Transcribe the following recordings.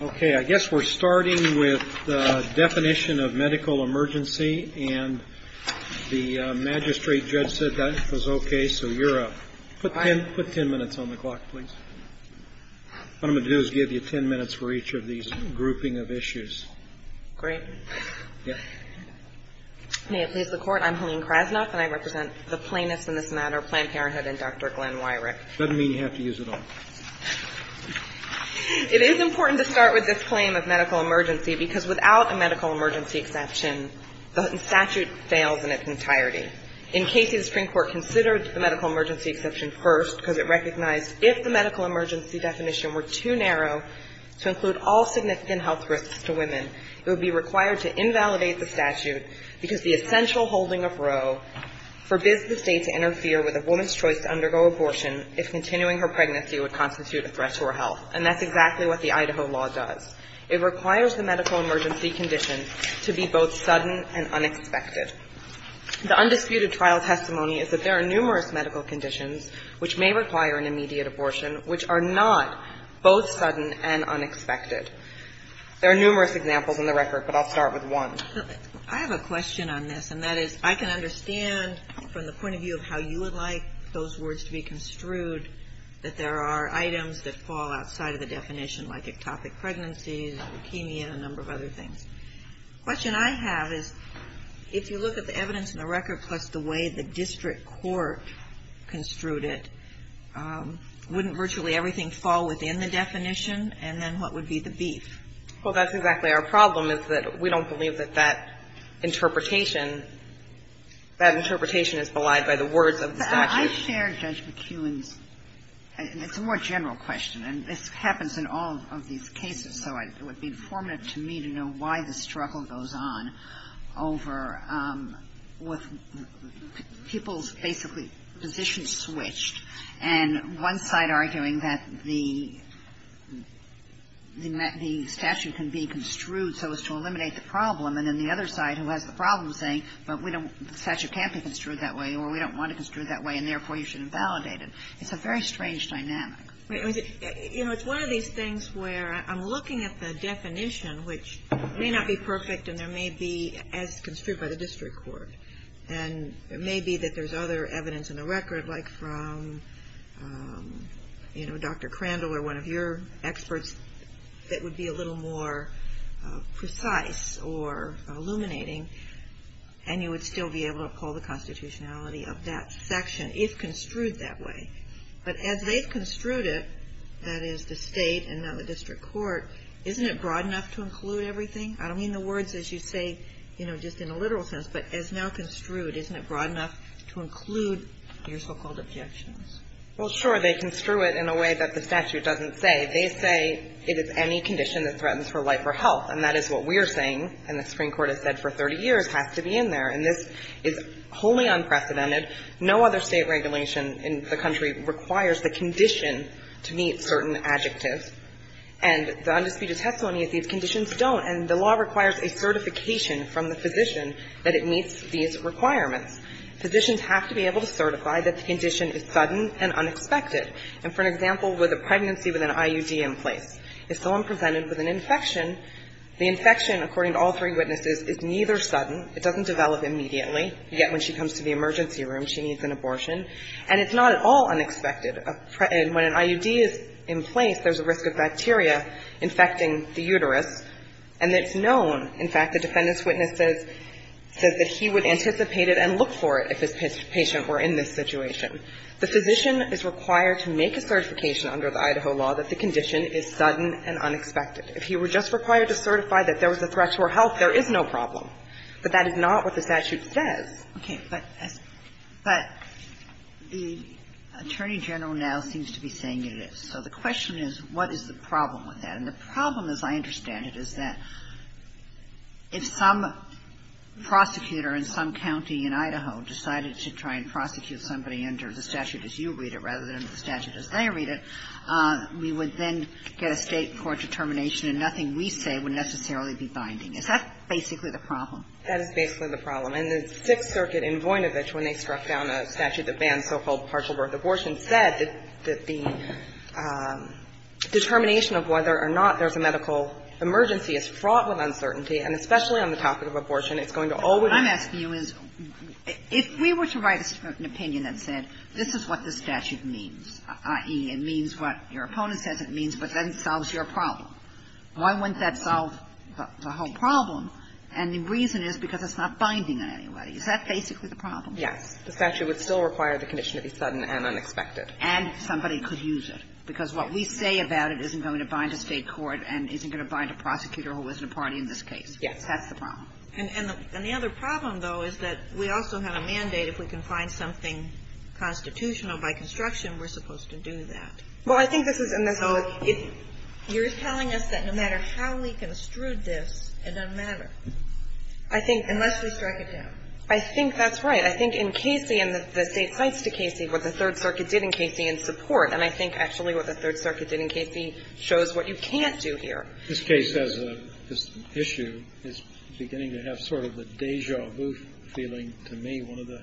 Okay, I guess we're starting with the definition of medical emergency, and the magistrate judge said that was okay, so you're up. Put ten minutes on the clock, please. What I'm going to do is give you ten minutes for each of these grouping of issues. Great. May it please the Court, I'm Helene Krasnoff, and I represent the plaintiffs in this matter, Planned Parenthood, and Dr. Glenn Wyrick. Does that mean you have to use it all? It is important to start with this claim of medical emergency, because without a medical emergency exception, the statute fails in its entirety. In Casey, the Supreme Court considered the medical emergency exception first because it recognized if the medical emergency definition were too narrow to include all significant health risks to women, it would be required to invalidate the statute because the essential holding of Roe forbids the State to interfere with a woman's choice to undergo abortion if continuing her pregnancy would constitute a threat to her health. And that's exactly what the Idaho law does. It requires the medical emergency condition to be both sudden and unexpected. The undisputed trial testimony is that there are numerous medical conditions which may require an immediate abortion which are not both sudden and unexpected. There are numerous examples in the record, but I'll start with one. I have a question on this, and that is, I can understand from the point of view of how you would like those words to be construed, that there are items that fall outside of the definition, like ectopic pregnancies, leukemia, and a number of other things. The question I have is, if you look at the evidence in the record plus the way the district court construed it, wouldn't virtually everything fall within the definition, and then what would be the beef? Well, that's exactly our problem, is that we don't believe that that interpretation is belied by the words of the statute. But I share Judge McEwen's, and it's a more general question, and this happens in all of these cases, so it would be formative to me to know why the struggle goes on over with people's basically positions switched, and one side arguing that the statute can be construed so as to eliminate the problem, and then the other side who has the problem saying, but the statute can't be construed that way, or we don't want it construed that way, and therefore you should invalidate it. It's a very strange dynamic. You know, it's one of these things where I'm looking at the definition, which may not be perfect, and there may be as construed by the district court, and it may be that there's other evidence in the record, like from, you know, Dr. Crandall or one of your experts, that would be a little more precise or illuminating, and you would still be able to uphold the constitutionality of that section if construed that way. But as they've construed it, that is the state and now the district court, isn't it broad enough to include everything? I don't mean the words as you say, you know, just in a literal sense, but as now construed, isn't it broad enough to include your so-called objections? Well, sure, they construe it in a way that the statute doesn't say. They say it is any condition that threatens her life or health, and that is what we're saying, and the Supreme Court has said for 30 years has to be in there. And this is wholly unprecedented. No other state regulation in the country requires the condition to meet certain adjectives, and the undisputed testimony is these conditions don't, and the law requires a certification from the physician that it meets these requirements. Physicians have to be able to certify that the condition is sudden and unexpected. And for an example, with a pregnancy with an IUD in place, if someone presented with an infection, the infection, according to all three witnesses, is neither sudden, it doesn't develop immediately, yet when she comes to the emergency room, she needs an abortion, and it's not at all unexpected. When an IUD is in place, there's a risk of bacteria infecting the uterus, and it's unknown. In fact, the defendant's witness says that he would anticipate it and look for it if his patient were in this situation. The physician is required to make a certification under the Idaho law that the condition is sudden and unexpected. If he were just required to certify that there was a threat to her health, there But that is not what the statute says. Ginsburg-McGillivray-Ford Okay. But the Attorney General now seems to be saying it is. So the question is, what is the problem with that? And the problem, as I understand it, is that if some prosecutor in some county in Idaho decided to try and prosecute somebody under the statute as you read it, rather than under the statute as they read it, we would then get a State court determination and nothing we say would necessarily be binding. Is that basically the problem? O'Connell That is basically the problem. And the Sixth Circuit in Voinovich, when they struck down a statute that banned so-called partial birth abortions, said that the determination of whether or not there's a medical emergency is fraught with uncertainty, and especially on the topic of abortion, it's going to always be. Ginsburg-McGillivray-Ford What I'm asking you is, if we were to write a certain opinion that said this is what the statute means, i.e., it means what your opponent says it means, but then it solves your problem, why wouldn't that solve the whole problem? And the reason is because it's not binding on anybody. Is that basically the problem? O'Connell Yes. The statute would still require the condition to be sudden and unexpected. Ginsburg-McGillivray-Ford And if somebody could use it, because what we say about it isn't going to bind a State court and isn't going to bind a prosecutor who isn't a party in this case. Ginsburg-McGillivray-Ford That's the problem. Kagan And the other problem, though, is that we also have a mandate. If we can find something constitutional by construction, we're supposed to do that. O'Connell Well, I think this is in this case. Kagan So you're telling us that no matter how we construed this, it doesn't matter. I think unless we strike it down. O'Connell I think that's right. I think in Casey, and the State cites to Casey what the Third Circuit did in Casey in support. And I think actually what the Third Circuit did in Casey shows what you can't do here. Kennedy This case has a issue. It's beginning to have sort of a deja vu feeling to me. One of the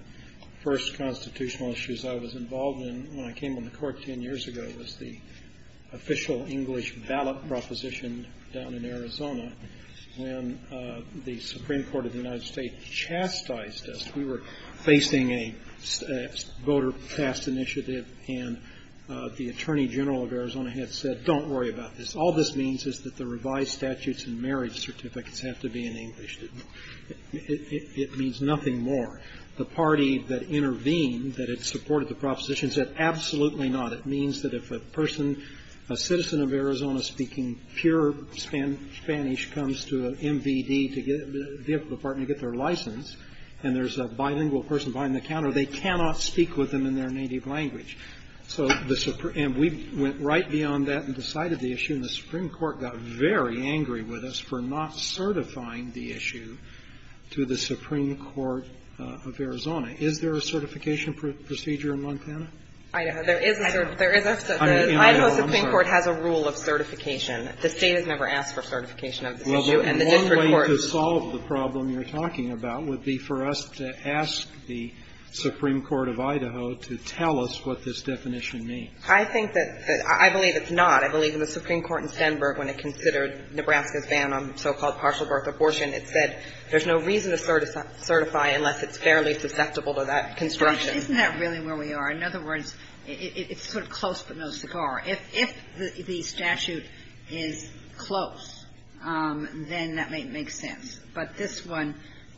first constitutional issues I was involved in when I came on the Court 10 years ago was the official English ballot proposition down in Arizona when the Supreme Court of the United States chastised us. We were facing a voter cast initiative, and the Attorney General of Arizona had said, don't worry about this. All this means is that the revised statutes and marriage certificates have to be in English. It means nothing more. The party that intervened, that had supported the proposition, said absolutely not. It means that if a person, a citizen of Arizona speaking pure Spanish comes to an MVD to get their license, and there's a bilingual person behind the counter, they cannot speak with them in their native language. And we went right beyond that and decided the issue, and the Supreme Court got very angry with us for not certifying the issue to the Supreme Court of Arizona. Is there a certification procedure in Montana? O'Connell Idaho Supreme Court has a rule of certification. The State has never asked for certification of this issue. And the district court has never asked for it. And one way to solve the problem you're talking about would be for us to ask the Supreme Court of Idaho to tell us what this definition means. I think that the – I believe it's not. I believe in the Supreme Court in Stenberg, when it considered Nebraska's ban on so-called partial birth abortion, it said there's no reason to certify unless it's fairly susceptible to that construction. Isn't that really where we are? In other words, it's sort of close but no cigar. If the statute is close, then that may make sense. But this one,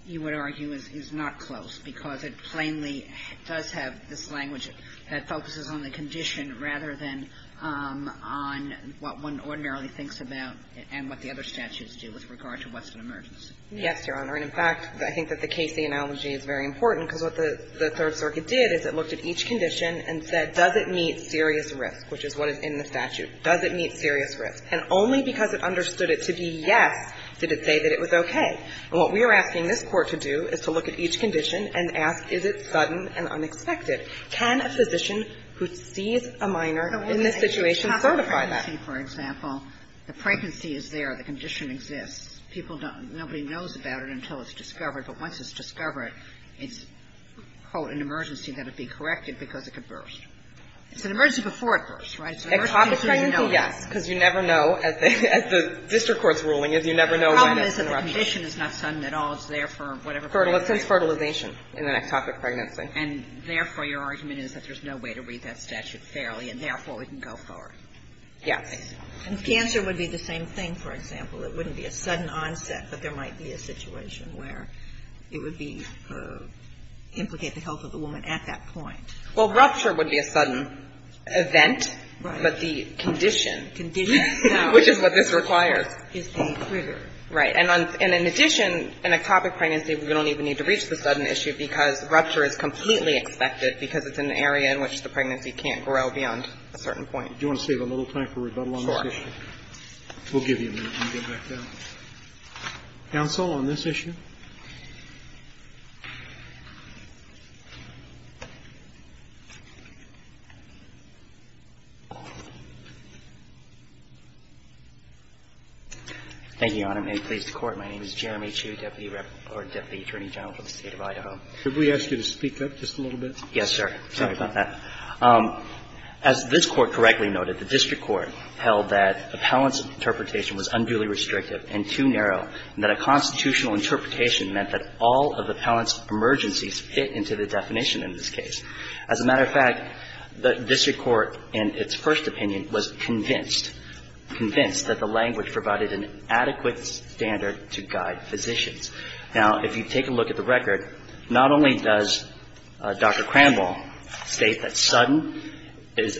you would argue, is not close, because it plainly does have this language that focuses on the condition rather than on what one ordinarily thinks about and what the other statutes do with regard to Western emergency. Yes, Your Honor. And, in fact, I think that the Casey analogy is very important, because what the Third Circuit did is it looked at each condition and said, does it meet serious risk, which is what is in the statute? Does it meet serious risk? And only because it understood it to be yes did it say that it was okay. And what we are asking this Court to do is to look at each condition and ask, is it sudden and unexpected? Can a physician who sees a minor in this situation certify that? The woman in the top emergency, for example, the pregnancy is there. The condition exists. People don't – nobody knows about it until it's discovered. But once it's discovered, it's, quote, an emergency that would be corrected because it could burst. It's an emergency before it bursts, right? So the emergency is when you know it. Ectopic pregnancy, yes, because you never know, as the district court's ruling, is you never know when it's in rupture. The problem is that the condition is not sudden at all. It's there for whatever reason. Since fertilization in an ectopic pregnancy. And, therefore, your argument is that there's no way to read that statute fairly, and, therefore, we can go forward. Yes. And cancer would be the same thing, for example. It wouldn't be a sudden onset, but there might be a situation where it would be for implicate the health of the woman at that point. Well, rupture would be a sudden event, but the condition, which is what this requires. Right. And in addition, in ectopic pregnancy, we don't even need to reach the sudden issue because rupture is completely expected because it's an area in which the pregnancy can't grow beyond a certain point. Do you want to save a little time for rebuttal on this issue? Sure. We'll give you a minute and get back down. Counsel, on this issue? Thank you, Your Honor. May it please the Court. My name is Jeremy Chu, Deputy Attorney General for the State of Idaho. Should we ask you to speak up just a little bit? Yes, sir. Sorry about that. As this Court correctly noted, the district court held that appellant's interpretation was unduly restrictive and too narrow, and that a constitutional interpretation meant that all of the appellant's emergencies fit into the definition in this case. As a matter of fact, the district court in its first opinion was convinced, convinced that the language provided an adequate standard to guide physicians. Now, if you take a look at the record, not only does Dr. Cranwell state that sudden is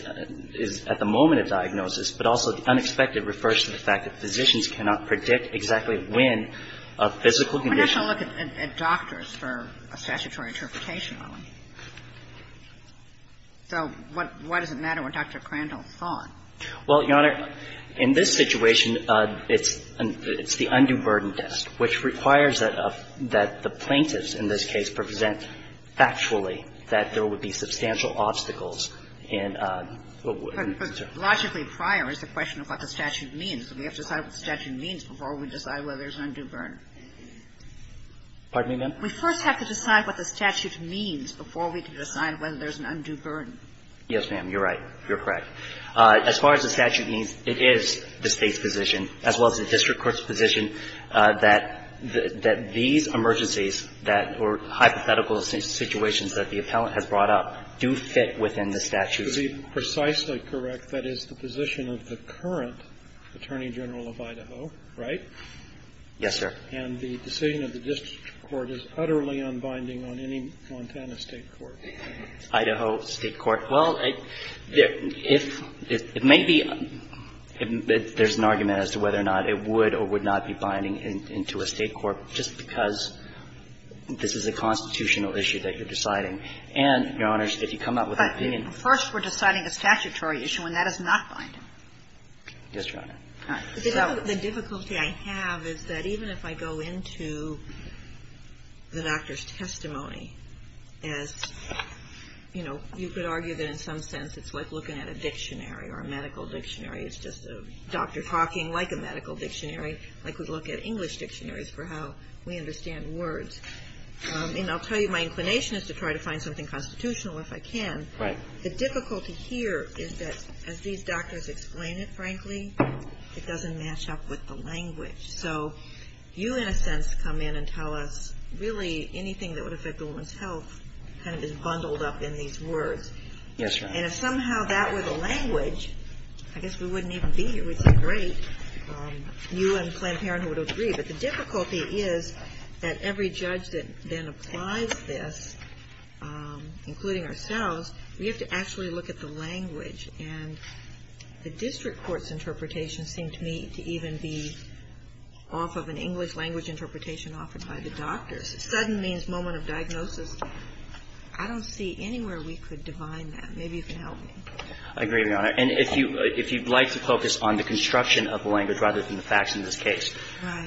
at the moment of diagnosis, but also the unexpected refers to the fact that physicians cannot predict exactly when a physical condition will occur. We're not going to look at doctors for a statutory interpretation, are we? So why does it matter what Dr. Crandall thought? Well, Your Honor, in this situation, it's the undue burden test, which requires that the plaintiffs, in this case, present factually that there would be substantial obstacles in a word. And logically, prior is the question of what the statute means. So we have to decide what the statute means before we decide whether there's an undue Pardon me, ma'am? We first have to decide what the statute means before we can decide whether there's an undue burden. Yes, ma'am, you're right. You're correct. As far as the statute means, it is the State's position, as well as the district court's position, that these emergencies that were hypothetical situations that the appellant has brought up do fit within the statute. But to be precisely correct, that is the position of the current Attorney General of Idaho, right? Yes, sir. And the decision of the district court is utterly unbinding on any Montana State court? Idaho State court. Well, if it may be that there's an argument as to whether or not it would or would not be binding into a State court just because this is a constitutional issue that you're deciding. And, Your Honor, if you come up with an opinion. First, we're deciding a statutory issue, and that is not binding. Yes, Your Honor. The difficulty I have is that even if I go into the doctor's testimony as, you know, you could argue that in some sense it's like looking at a dictionary or a medical dictionary. It's just a doctor talking like a medical dictionary, like we'd look at English dictionaries for how we understand words. And I'll tell you, my inclination is to try to find something constitutional if I can. Right. The difficulty here is that as these doctors explain it, frankly, it doesn't match up with the language. So you, in a sense, come in and tell us really anything that would affect a woman's health kind of is bundled up in these words. Yes, Your Honor. And if somehow that were the language, I guess we wouldn't even be here. We'd say, great. You and Planned Parenthood would agree. But the difficulty is that every judge that then applies this, including ourselves, we have to actually look at the language. And the district court's interpretation seemed to me to even be off of an English language interpretation offered by the doctors. Sudden means moment of diagnosis. I don't see anywhere we could define that. Maybe you can help me. I agree, Your Honor. And if you'd like to focus on the construction of the language rather than the facts in this case,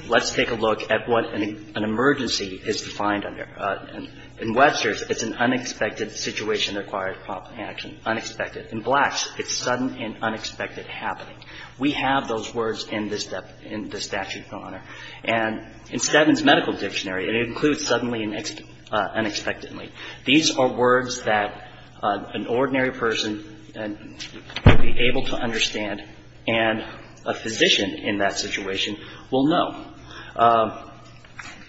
let's take a look at what an emergency is defined under. In Webster's, it's an unexpected situation that requires prompt action. Unexpected. In Black's, it's sudden and unexpected happening. We have those words in the statute, Your Honor. And in Stedman's medical dictionary, it includes suddenly and unexpectedly. These are words that an ordinary person would be able to understand, and a physician in that situation will know.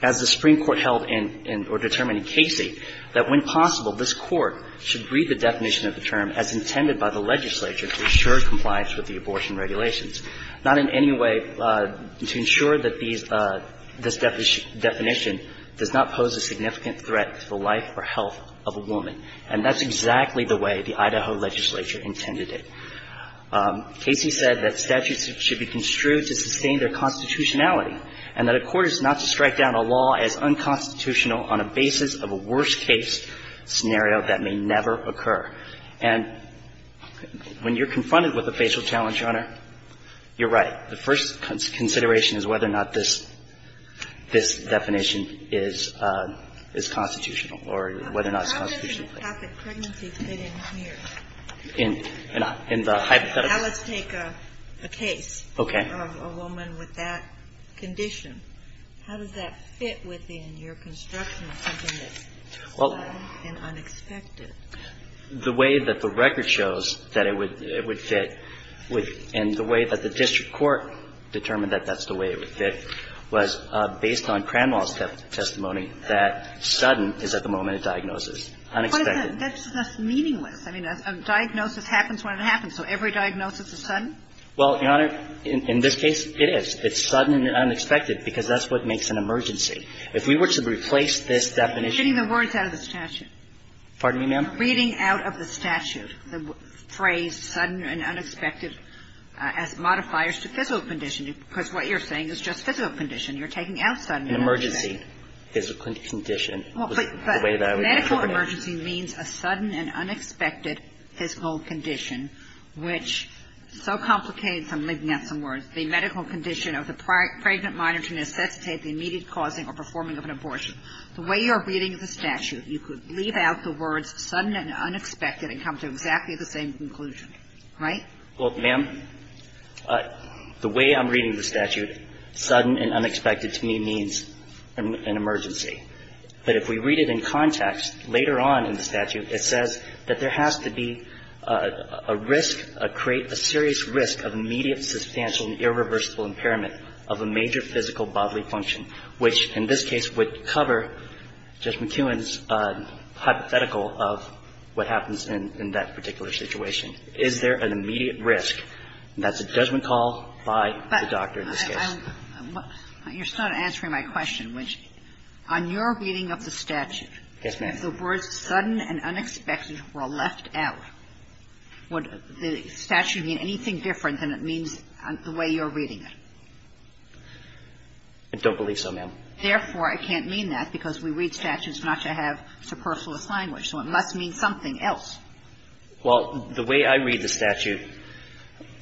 As the Supreme Court held in or determined in Casey, that when possible, this court should read the definition of the term as intended by the legislature to ensure compliance with the abortion regulations, not in any way to ensure that these – this definition does not pose a significant threat to the life or health of a woman. And that's exactly the way the Idaho legislature intended it. Casey said that statutes should be construed to sustain their constitutionality and that a court is not to strike down a law as unconstitutional on a basis of a worst-case scenario that may never occur. And when you're confronted with a facial challenge, Your Honor, you're right. The first consideration is whether or not this definition is constitutional or whether or not it's constitutional. In the hypothetical. Now let's take a case of a woman with that condition. How does that fit within your construction of something that's sudden and unexpected? The way that the record shows that it would fit and the way that the district court determined that that's the way it would fit was based on Cranwell's testimony that sudden is at the moment a diagnosis. Unexpected. That's meaningless. I mean, a diagnosis happens when it happens. So every diagnosis is sudden? Well, Your Honor, in this case, it is. It's sudden and unexpected because that's what makes an emergency. If we were to replace this definition of a sudden and unexpected, it would be a medical emergency. And you're getting the words out of the statute. Pardon me, ma'am? Reading out of the statute the phrase sudden and unexpected as modifiers to physical You're taking out sudden and unexpected. An emergency, physical condition, is the way that I would interpret it. Well, but medical emergency means a sudden and unexpected physical condition, which so complicates, I'm leaving out some words, the medical condition of the pregnant minor to necessitate the immediate causing or performing of an abortion. The way you are reading the statute, you could leave out the words sudden and unexpected and come to exactly the same conclusion, right? Well, ma'am, the way I'm reading the statute, sudden and unexpected to me means an emergency. But if we read it in context, later on in the statute, it says that there has to be a risk, create a serious risk of immediate, substantial and irreversible impairment of a major physical bodily function, which in this case would cover Judge McEwen's hypothetical of what happens in that particular situation. Is there an immediate risk? And that's a judgment call by the doctor in this case. But you're still not answering my question, which on your reading of the statute. Yes, ma'am. If the words sudden and unexpected were left out, would the statute mean anything different than it means the way you're reading it? I don't believe so, ma'am. Therefore, I can't mean that because we read statutes not to have superfluous language. So it must mean something else. Well, the way I read the statute,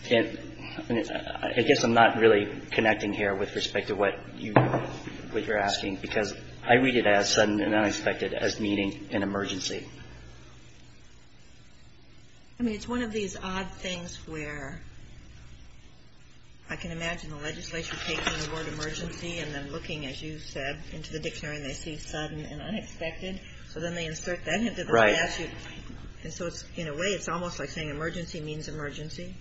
I guess I'm not really connecting here with respect to what you're asking, because I read it as sudden and unexpected as meaning an emergency. I mean, it's one of these odd things where I can imagine the legislature taking the word emergency and then looking, as you said, into the dictionary and they see sudden and unexpected. So then they insert that into the statute. And so in a way, it's almost like saying emergency means emergency.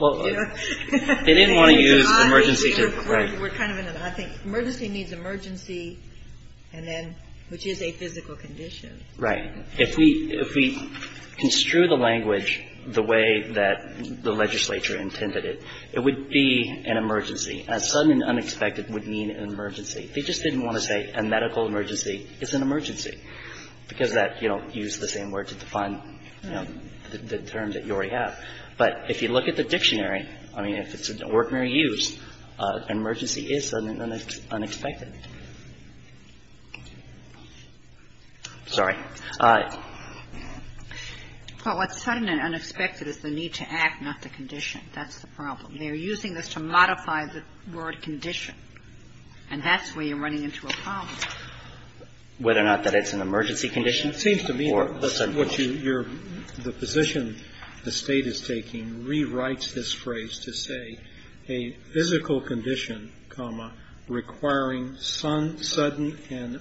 Well, they didn't want to use emergency to, right. We're kind of in an odd thing. Emergency means emergency and then, which is a physical condition. Right. If we construe the language the way that the legislature intended it, it would be an emergency. A sudden and unexpected would mean an emergency. And I don't know if that's the same word to define, you know, the term that you already have, but if you look at the dictionary, I mean, if it's a word Mary used, an emergency is sudden and unexpected. Sorry. Well, what's sudden and unexpected is the need to act, not the condition. That's the problem. They're using this to modify the word condition. And that's where you're running into a problem. Whether or not that it's an emergency condition. And it seems to me what you're the position the State is taking rewrites this phrase to say a physical condition, comma, requiring sudden and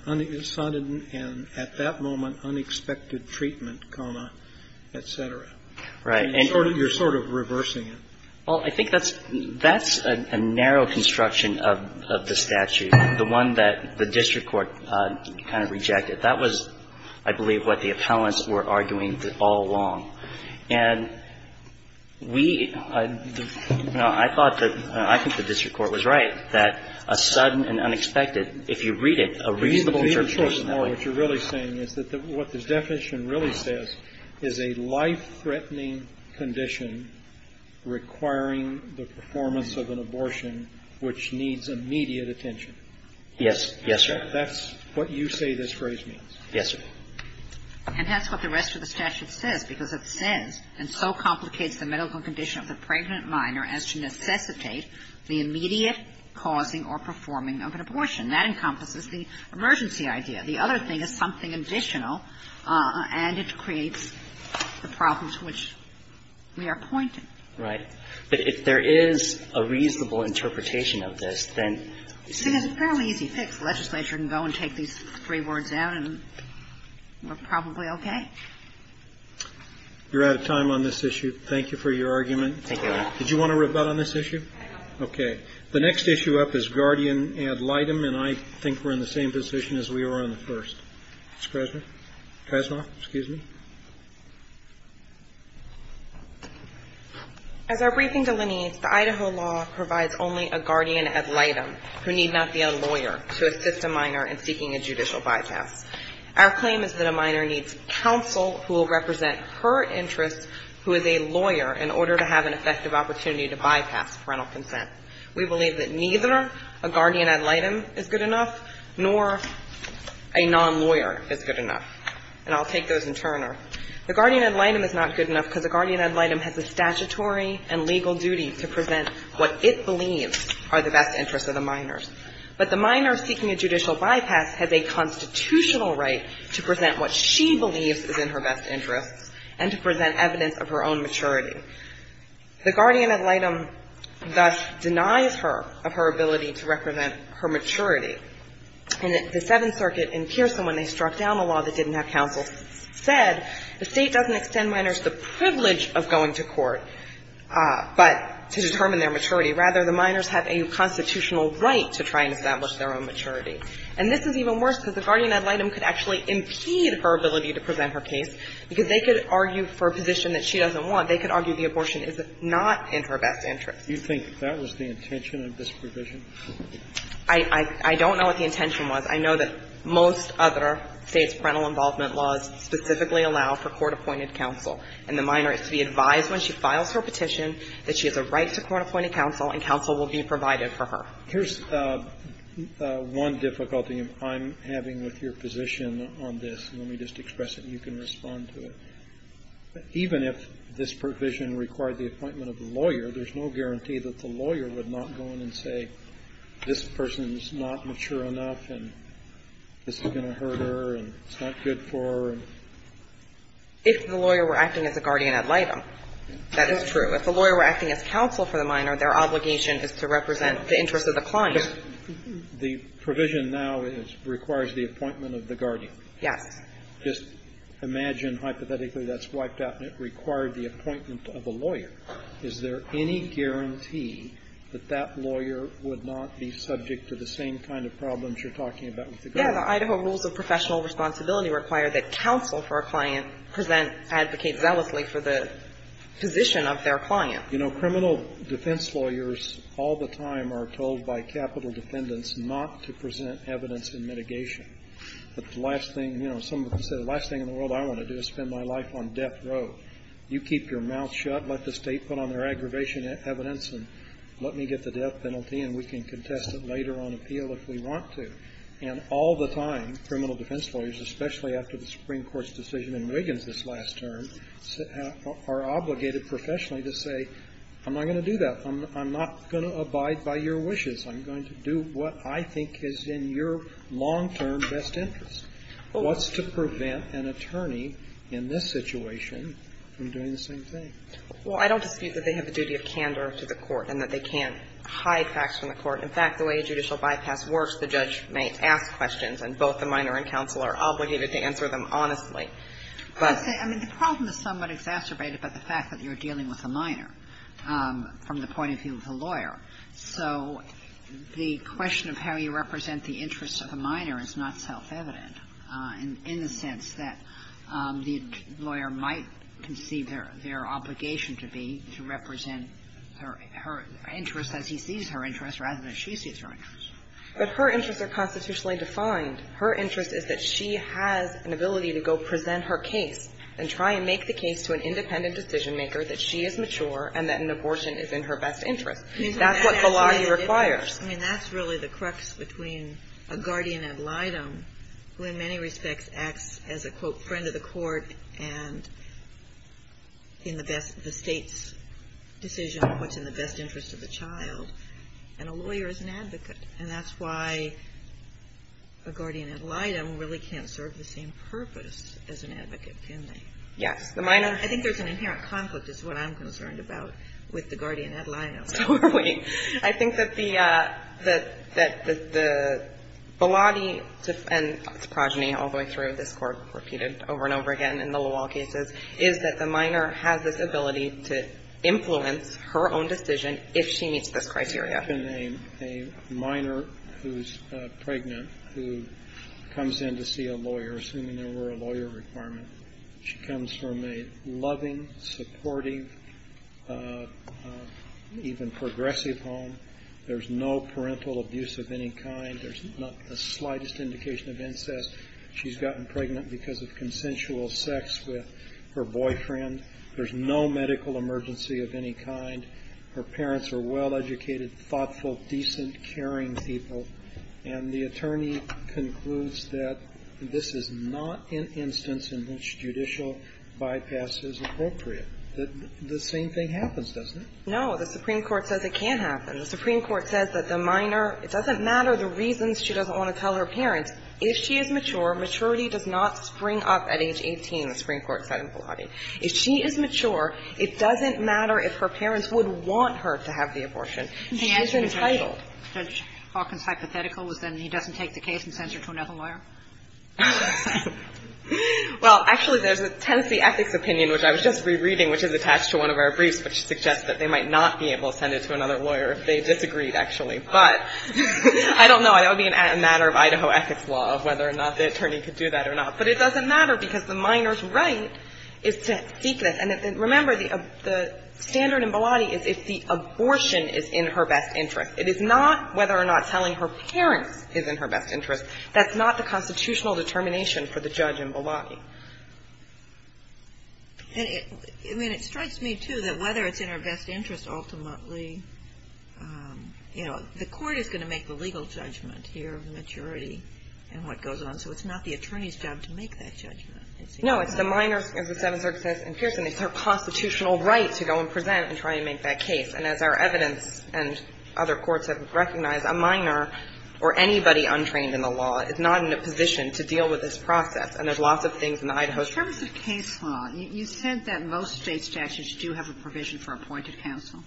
at that moment unexpected treatment, comma, et cetera. Right. And you're sort of reversing it. Well, I think that's a narrow construction of the statute, the one that the district court kind of rejected. That was, I believe, what the appellants were arguing all along. And we – I thought that – I think the district court was right that a sudden and unexpected, if you read it, a reasonable term for personality. What you're really saying is that what this definition really says is a life-threatening condition requiring the performance of an abortion which needs immediate attention. Yes. Yes, sir. That's what you say this phrase means. Yes, sir. And that's what the rest of the statute says, because it says, and so complicates the medical condition of the pregnant minor as to necessitate the immediate causing or performing of an abortion. That encompasses the emergency idea. The other thing is something additional, and it creates the problems which we are pointing. Right. But if there is a reasonable interpretation of this, then you see there's a fairly easy fix. The legislature can go and take these three words out, and we're probably okay. You're out of time on this issue. Thank you for your argument. Thank you. Did you want to rebut on this issue? I don't. Okay. The next issue up is guardian ad litem, and I think we're in the same position as we were on the first. Ms. Krasnoff? Krasnoff? Excuse me? As our briefing delineates, the Idaho law provides only a guardian ad litem, who need not be a lawyer, to assist a minor in seeking a judicial bypass. Our claim is that a minor needs counsel who will represent her interest, who is a lawyer, in order to have an effective opportunity to bypass parental consent. We believe that neither a guardian ad litem is good enough, nor a non-lawyer is good enough, and I'll take those in turner. The guardian ad litem is not good enough because a guardian ad litem has a statutory and legal duty to present what it believes are the best interests of the minors. But the minor seeking a judicial bypass has a constitutional right to present what she believes is in her best interests and to present evidence of her own maturity. The guardian ad litem, thus, denies her of her ability to represent her maturity. And the Seventh Circuit in Pearson, when they struck down a law that didn't have counsel, said the State doesn't extend minors the privilege of going to court. But to determine their maturity, rather, the minors have a constitutional right to try and establish their own maturity. And this is even worse because the guardian ad litem could actually impede her ability to present her case because they could argue for a position that she doesn't want. They could argue the abortion is not in her best interests. Kennedy. Do you think that was the intention of this provision? I don't know what the intention was. I know that most other State's parental involvement laws specifically allow for court-appointed counsel. And the minor is to be advised when she files her petition that she has a right to court-appointed counsel and counsel will be provided for her. Here's one difficulty I'm having with your position on this. Let me just express it and you can respond to it. Even if this provision required the appointment of a lawyer, there's no guarantee that the lawyer would not go in and say, this person is not mature enough and this is going to hurt her and it's not good for her. If the lawyer were acting as a guardian ad litem, that is true. If the lawyer were acting as counsel for the minor, their obligation is to represent the interests of the client. The provision now requires the appointment of the guardian. Yes. Just imagine hypothetically that's wiped out and it required the appointment of a lawyer. Is there any guarantee that that lawyer would not be subject to the same kind of problems you're talking about with the guardian? Yeah. The Idaho rules of professional responsibility require that counsel for a client present, advocate zealously for the position of their client. You know, criminal defense lawyers all the time are told by capital defendants not to present evidence in mitigation. The last thing, you know, some of them say the last thing in the world I want to do is spend my life on death row. You keep your mouth shut, let the State put on their aggravation evidence and let me get the death penalty and we can contest it later on appeal if we want to. And all the time, criminal defense lawyers, especially after the Supreme Court's decision in Wiggins this last term, are obligated professionally to say I'm not going to do that. I'm not going to abide by your wishes. I'm going to do what I think is in your long-term best interest. What's to prevent an attorney in this situation from doing the same thing? Well, I don't dispute that they have a duty of candor to the court and that they can't hide facts from the court. In fact, the way a judicial bypass works, the judge may ask questions and both the minor and counsel are obligated to answer them honestly. But the problem is somewhat exacerbated by the fact that you're dealing with a minor from the point of view of the lawyer. So the question of how you represent the interests of a minor is not self-evident in the sense that the lawyer might conceive their obligation to be to represent her interests as he sees her interests rather than she sees her interests. But her interests are constitutionally defined. Her interest is that she has an ability to go present her case and try and make the case to an independent decision-maker that she is mature and that an abortion is in her best interest. That's what Bilagi requires. I mean, that's really the crux between a guardian ad litem who in many respects acts as a, quote, friend of the court and in the best of the state's decision what's in the best interest of the child, and a lawyer is an advocate. And that's why a guardian ad litem really can't serve the same purpose as an advocate, can they? Yes. The minor. I think there's an inherent conflict is what I'm concerned about with the guardian ad litem. So are we. I think that the Bilagi and its progeny all the way through this Court repeated over and over again in the LaWall cases is that the minor has this ability to influence her own decision if she meets this criteria. A minor who's pregnant who comes in to see a lawyer, assuming there were a lawyer requirement, she comes from a loving, supportive, even progressive home. There's no parental abuse of any kind. There's not the slightest indication of incest. She's gotten pregnant because of consensual sex with her boyfriend. There's no medical emergency of any kind. Her parents are well-educated, thoughtful, decent, caring people. And the attorney concludes that this is not an instance in which judicial bypass is appropriate. The same thing happens, doesn't it? No. The Supreme Court says it can't happen. The Supreme Court says that the minor – it doesn't matter the reasons she doesn't want to tell her parents. If she is mature, maturity does not spring up at age 18, the Supreme Court said in Bilagi. If she is mature, it doesn't matter if her parents would want her to have the abortion. She's entitled. Judge Hawkins' hypothetical is then he doesn't take the case and sends her to another lawyer? Well, actually, there's a Tennessee ethics opinion, which I was just rereading, which is attached to one of our briefs, which suggests that they might not be able to send it to another lawyer if they disagreed, actually. But I don't know. It would be a matter of Idaho ethics law, whether or not the attorney could do that or not. But it doesn't matter because the minor's right is to seek this. And remember, the standard in Bilagi is if the abortion is in her best interest. It is not whether or not telling her parents is in her best interest. That's not the constitutional determination for the judge in Bilagi. And it – I mean, it strikes me, too, that whether it's in her best interest ultimately, you know, the court is going to make the legal judgment here of maturity and what goes on. So it's not the attorney's job to make that judgment. No. It's the minor's – as the Seventh Circuit says in Pearson, it's her constitutional right to go and present and try and make that case. And as our evidence and other courts have recognized, a minor or anybody untrained in the law is not in a position to deal with this process. And there's lots of things in the Idaho statute. Kagan. Kagan. In terms of case law, you said that most State statutes do have a provision for appointed counsel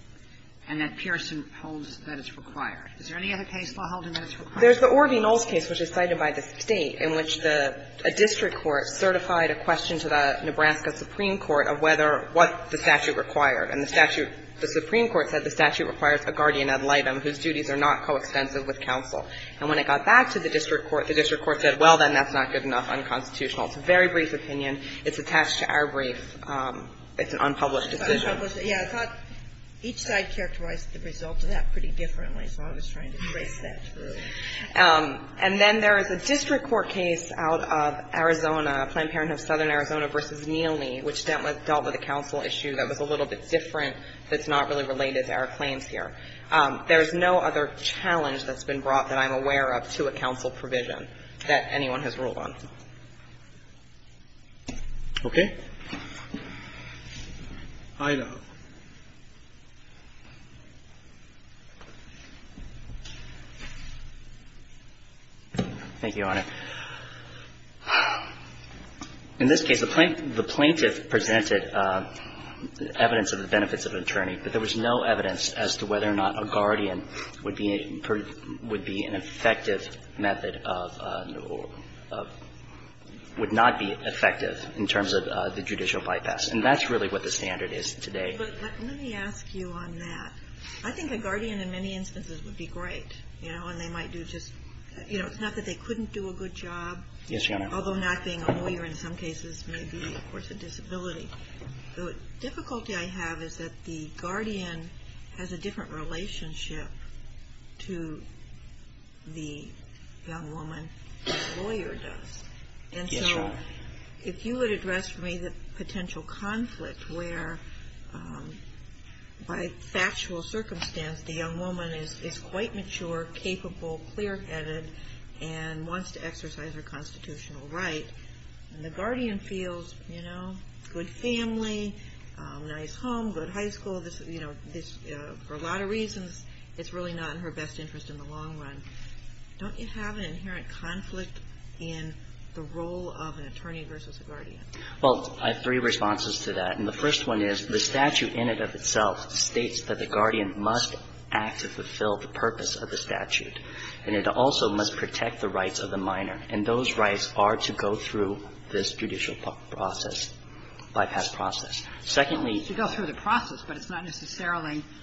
and that Pearson holds that it's required. Is there any other case law holding that it's required? There's the Orvie Noles case, which is cited by the State, in which the – a district court certified a question to the Nebraska Supreme Court of whether – what the statute required. And the statute – the Supreme Court said the statute requires a guardian ad litem whose duties are not coextensive with counsel. And when it got back to the district court, the district court said, well, then that's not good enough, unconstitutional. It's a very brief opinion. It's attached to our brief. It's an unpublished decision. Yeah. I thought each side characterized the result of that pretty differently, so I was trying to trace that through. And then there is a district court case out of Arizona, Planned Parenthood of Southern Arizona v. Neely, which dealt with a counsel issue that was a little bit different that's not really related to our claims here. There is no other challenge that's been brought that I'm aware of to a counsel provision that anyone has ruled on. Aida. Thank you, Your Honor. In this case, the plaintiff presented evidence of the benefits of an attorney, but there was no evidence as to whether or not a guardian would be an effective method of – would not be effective in terms of the judicial bypass. And that's really what the standard is today. But let me ask you on that. I think a guardian in many instances would be great, you know, and they might do just – you know, it's not that they couldn't do a good job. Yes, Your Honor. Although not being a lawyer in some cases may be, of course, a disability. The difficulty I have is that the guardian has a different relationship to the young woman than the lawyer does. Yes, Your Honor. And so if you would address for me the potential conflict where by factual circumstance the young woman is quite mature, capable, clear-headed, and wants to exercise her constitutional right, and the guardian feels, you know, good family, nice home, good high school, you know, this – for a lot of reasons, it's really not in her best interest in the long run. Don't you have an inherent conflict in the role of an attorney versus a guardian? Well, I have three responses to that. And the first one is the statute in and of itself states that the guardian must act to fulfill the purpose of the statute, and it also must protect the rights of the minor. And those rights are to go through this judicial process, bypass process. Secondly – To go through the process, but it's not necessarily –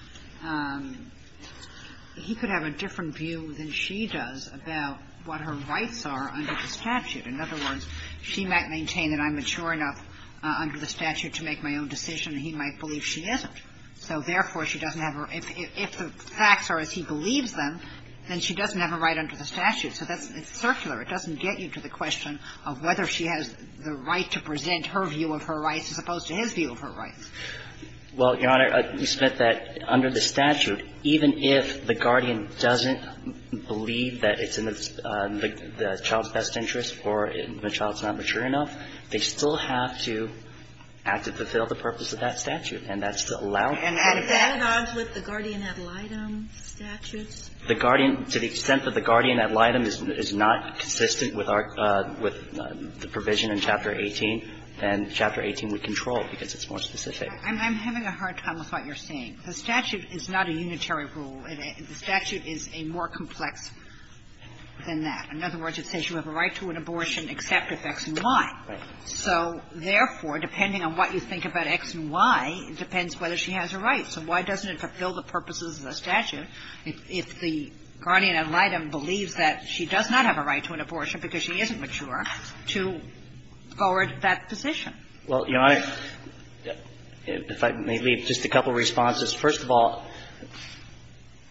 he could have a different view than she does about what her rights are under the statute. In other words, she might maintain that I'm mature enough under the statute to make my own decision, and he might believe she isn't. So therefore, she doesn't have her – if the facts are as he believes them, then she doesn't have a right under the statute. So that's – it's circular. It doesn't get you to the question of whether she has the right to present her view of her rights as opposed to his view of her rights. Well, Your Honor, you said that under the statute, even if the guardian doesn't believe that it's in the child's best interest or the child's not mature enough, they still have to act to fulfill the purpose of that statute. And that's to allow – And if that's – Can it add on to the guardian ad litem statutes? The guardian – to the extent that the guardian ad litem is not consistent with our – with the provision in Chapter 18, then Chapter 18 would control it because it's more specific. I'm having a hard time with what you're saying. The statute is not a unitary rule. The statute is a more complex than that. In other words, it says you have a right to an abortion except if X and Y. Right. So therefore, depending on what you think about X and Y, it depends whether she has a right. So why doesn't it fulfill the purposes of the statute if the guardian ad litem believes that she does not have a right to an abortion because she isn't mature to forward that position? Well, Your Honor, if I may leave just a couple of responses. First of all,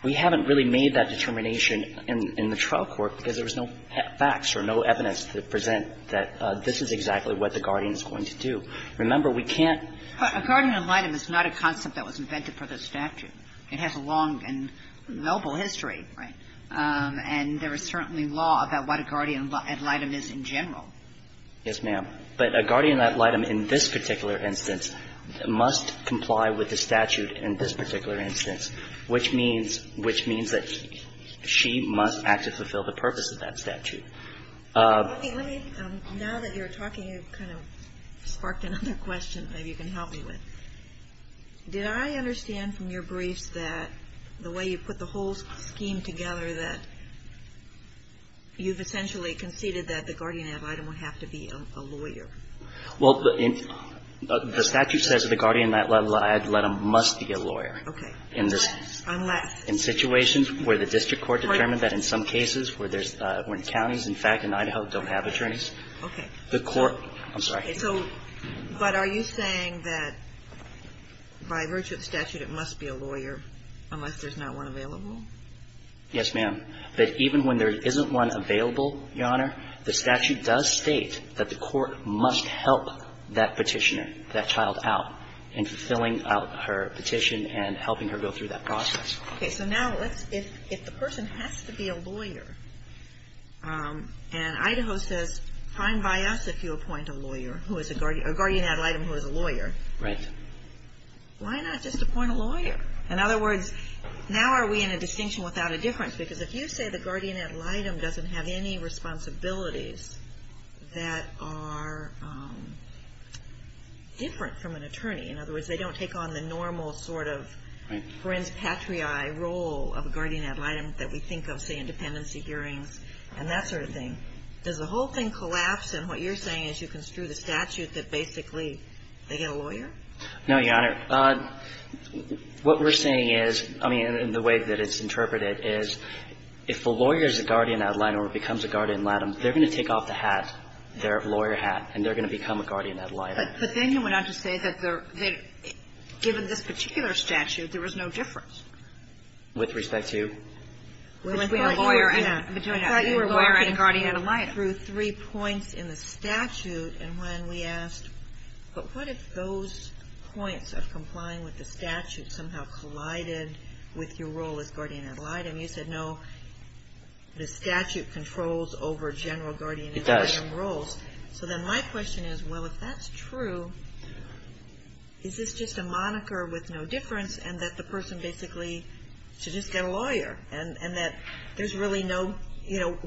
we haven't really made that determination in the trial court because there was no facts or no evidence to present that this is exactly what the guardian is going to do. Remember, we can't – But a guardian ad litem is not a concept that was invented for the statute. It has a long and noble history, right? And there is certainly law about what a guardian ad litem is in general. Yes, ma'am. But a guardian ad litem in this particular instance must comply with the statute in this particular instance, which means that she must act to fulfill the purpose of that statute. Let me – now that you're talking, you've kind of sparked another question that you can help me with. Did I understand from your briefs that the way you put the whole scheme together that you've essentially conceded that the guardian ad litem would have to be a lawyer? Well, the statute says that the guardian ad litem must be a lawyer. Okay. Unless – In situations where the district court determined that in some cases where there's – when counties, in fact, in Idaho don't have attorneys, the court – I'm sorry. So – but are you saying that by virtue of the statute it must be a lawyer unless there's not one available? Yes, ma'am. That even when there isn't one available, Your Honor, the statute does state that the court must help that petitioner, that child out in fulfilling her petition and helping her go through that process. Okay. So now let's – if the person has to be a lawyer, and Idaho says fine by us if you appoint a lawyer who is a guardian – a guardian ad litem who is a lawyer. Right. Why not just appoint a lawyer? In other words, now are we in a distinction without a difference? Because if you say the guardian ad litem doesn't have any responsibilities that are different from an attorney – in other words, they don't take on the normal sort of friends patriae role of a guardian ad litem that we think of, say, in dependency hearings and that sort of thing – does the whole thing collapse in what you're saying as you construe the statute that basically they get a lawyer? No, Your Honor. What we're saying is – I mean, the way that it's interpreted is if the lawyer is a guardian ad litem or becomes a guardian ad litem, they're going to take off the hat, their lawyer hat, and they're going to become a guardian ad litem. But then you went on to say that given this particular statute, there was no difference. With respect to? I thought you were wearing a guardian ad litem. We went through three points in the statute and when we asked, but what if those points of complying with the statute somehow collided with your role as guardian ad litem? You said, no, the statute controls over general guardian ad litem roles. It does. So then my question is, well, if that's true, is this just a moniker with no difference and that the person basically should just get a lawyer and that there's really no difference?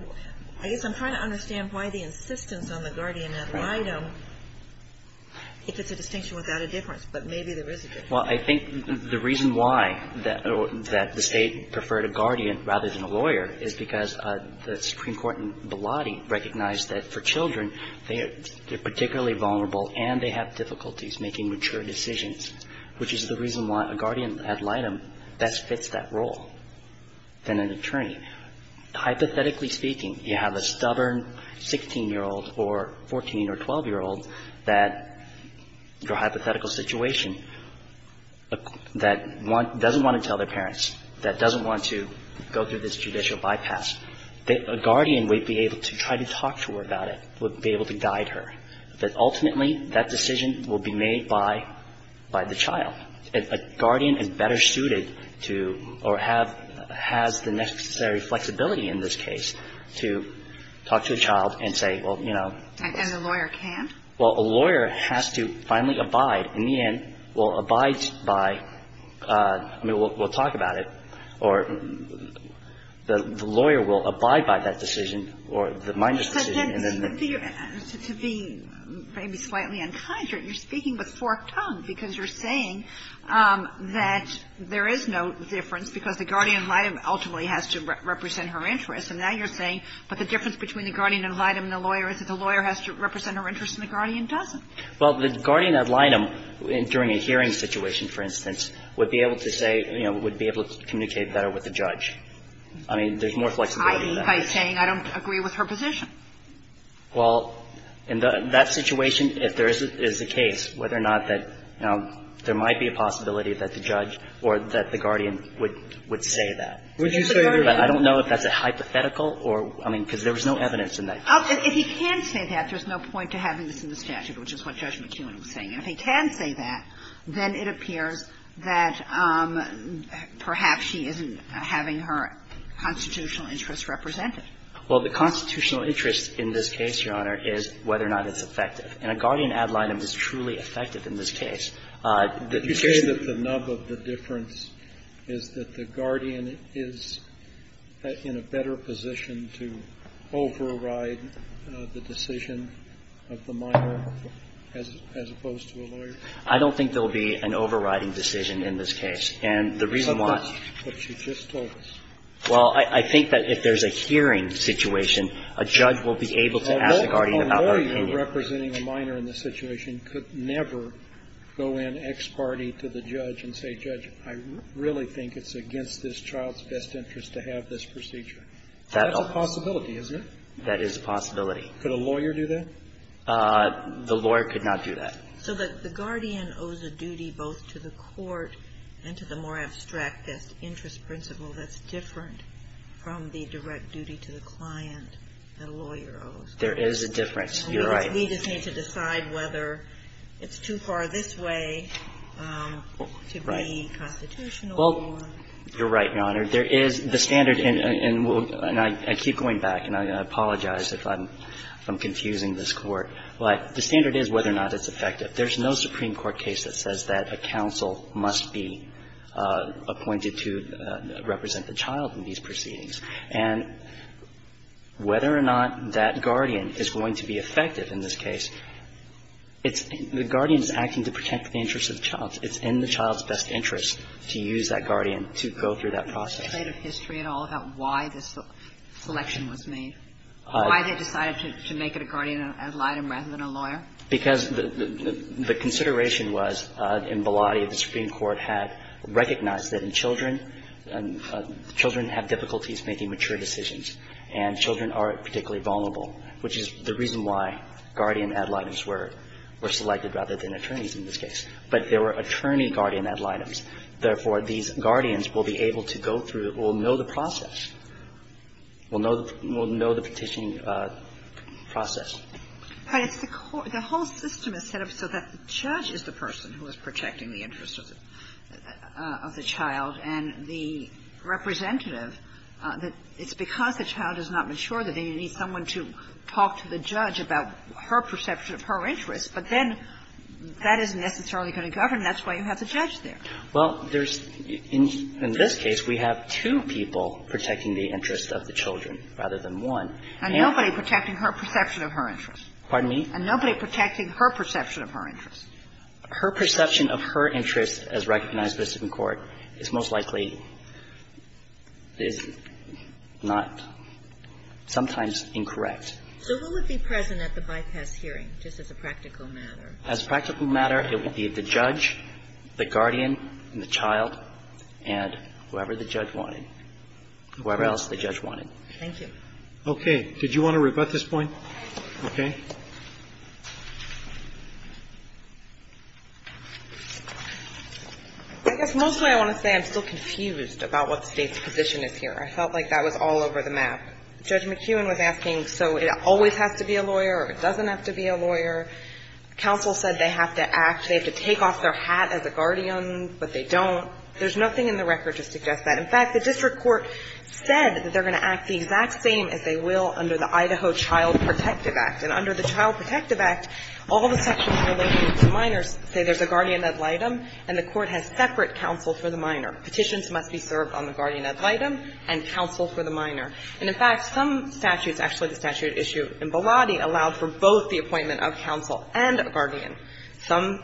I guess I'm trying to understand why the insistence on the guardian ad litem, if it's a distinction without a difference, but maybe there is a difference. Well, I think the reason why that the State preferred a guardian rather than a lawyer is because the Supreme Court in Bilotti recognized that for children, they're particularly vulnerable and they have difficulties making mature decisions, which is the reason why a guardian ad litem best fits that role than an attorney. Hypothetically speaking, you have a stubborn 16-year-old or 14- or 12-year-old that, for a hypothetical situation, that doesn't want to tell their parents, that doesn't want to go through this judicial bypass, that a guardian would be able to try to talk to her about it, would be able to guide her, that ultimately that decision will be made by the child. A guardian is better suited to or has the necessary flexibility in this case to talk to a child and say, well, you know. And the lawyer can? Well, a lawyer has to finally abide. In the end, will abide by, I mean, we'll talk about it, or the lawyer will abide by that decision or the mindless decision and then the… To be maybe slightly untidy, you're speaking with forked tongue because you're saying that there is no difference because the guardian ad litem ultimately has to represent her interest. And now you're saying, but the difference between the guardian ad litem and the lawyer is that the lawyer has to represent her interest and the guardian doesn't. Well, the guardian ad litem during a hearing situation, for instance, would be able to say, you know, would be able to communicate better with the judge. I mean, there's more flexibility in that case. I.e. by saying, I don't agree with her position. Well, in that situation, if there is a case, whether or not that there might be a possibility that the judge or that the guardian would say that. Would you say that? I don't know if that's a hypothetical or – I mean, because there was no evidence in that case. If he can say that, there's no point to having this in the statute, which is what Judge McEwen was saying. If he can say that, then it appears that perhaps she isn't having her constitutional interest represented. Well, the constitutional interest in this case, Your Honor, is whether or not it's effective. And a guardian ad litem is truly effective in this case. The case you say that the nub of the difference is that the guardian is in a better position to override the decision of the minor as opposed to a lawyer. I don't think there will be an overriding decision in this case. And the reason why – But she just told us. Well, I think that if there's a hearing situation, a judge will be able to ask a guardian about her opinion. A lawyer representing a minor in this situation could never go in ex parte to the judge and say, Judge, I really think it's against this child's best interest to have this procedure. That's a possibility, isn't it? That is a possibility. Could a lawyer do that? The lawyer could not do that. So the guardian owes a duty both to the court and to the more abstract interest principle that's different from the direct duty to the client that a lawyer owes. There is a difference. You're right. We just need to decide whether it's too far this way to be constitutional or not. Well, you're right, Your Honor. There is the standard, and I keep going back, and I apologize if I'm confusing this Court, but the standard is whether or not it's effective. There's no Supreme Court case that says that a counsel must be appointed to represent the child in these proceedings. And whether or not that guardian is going to be effective in this case, it's the guardian is acting to protect the interests of the child. It's in the child's best interest to use that guardian to go through that process. Is there any history at all about why this selection was made, why they decided to make it a guardian ad litem rather than a lawyer? Because the consideration was in Bellotti, the Supreme Court had recognized that in children, children have difficulties making mature decisions, and children are particularly vulnerable, which is the reason why guardian ad litems were selected rather than attorneys in this case. But there were attorney guardian ad litems. Therefore, these guardians will be able to go through, will know the process, will know the petitioning process. But it's the whole system is set up so that the judge is the person who is protecting the interests of the child, and the representative, it's because the child is not mature that they need someone to talk to the judge about her perception of her interests. But then that isn't necessarily going to govern, and that's why you have the judge there. Well, there's – in this case, we have two people protecting the interests of the children rather than one. And nobody protecting her perception of her interests. Pardon me? And nobody protecting her perception of her interests. Her perception of her interests, as recognized by the Supreme Court, is most likely not – sometimes incorrect. So who would be present at the bypass hearing, just as a practical matter? As a practical matter, it would be the judge, the guardian, and the child, and whoever the judge wanted, whoever else the judge wanted. Thank you. Okay. Did you want to rebut this point? Okay. I guess mostly I want to say I'm still confused about what the State's position is here. I felt like that was all over the map. Judge McEwen was asking, so it always has to be a lawyer, or it doesn't have to be a lawyer. Counsel said they have to act – they have to take off their hat as a guardian, but they don't. There's nothing in the record to suggest that. In fact, the district court said that they're going to act the exact same as they will under the Idaho Child Protective Act. And under the Child Protective Act, all the sections relating to minors say there's a guardian ad litem, and the court has separate counsel for the minor. Petitions must be served on the guardian ad litem and counsel for the minor. And in fact, some statutes – actually, the statute at issue in Bilotti allowed for both the appointment of counsel and a guardian. And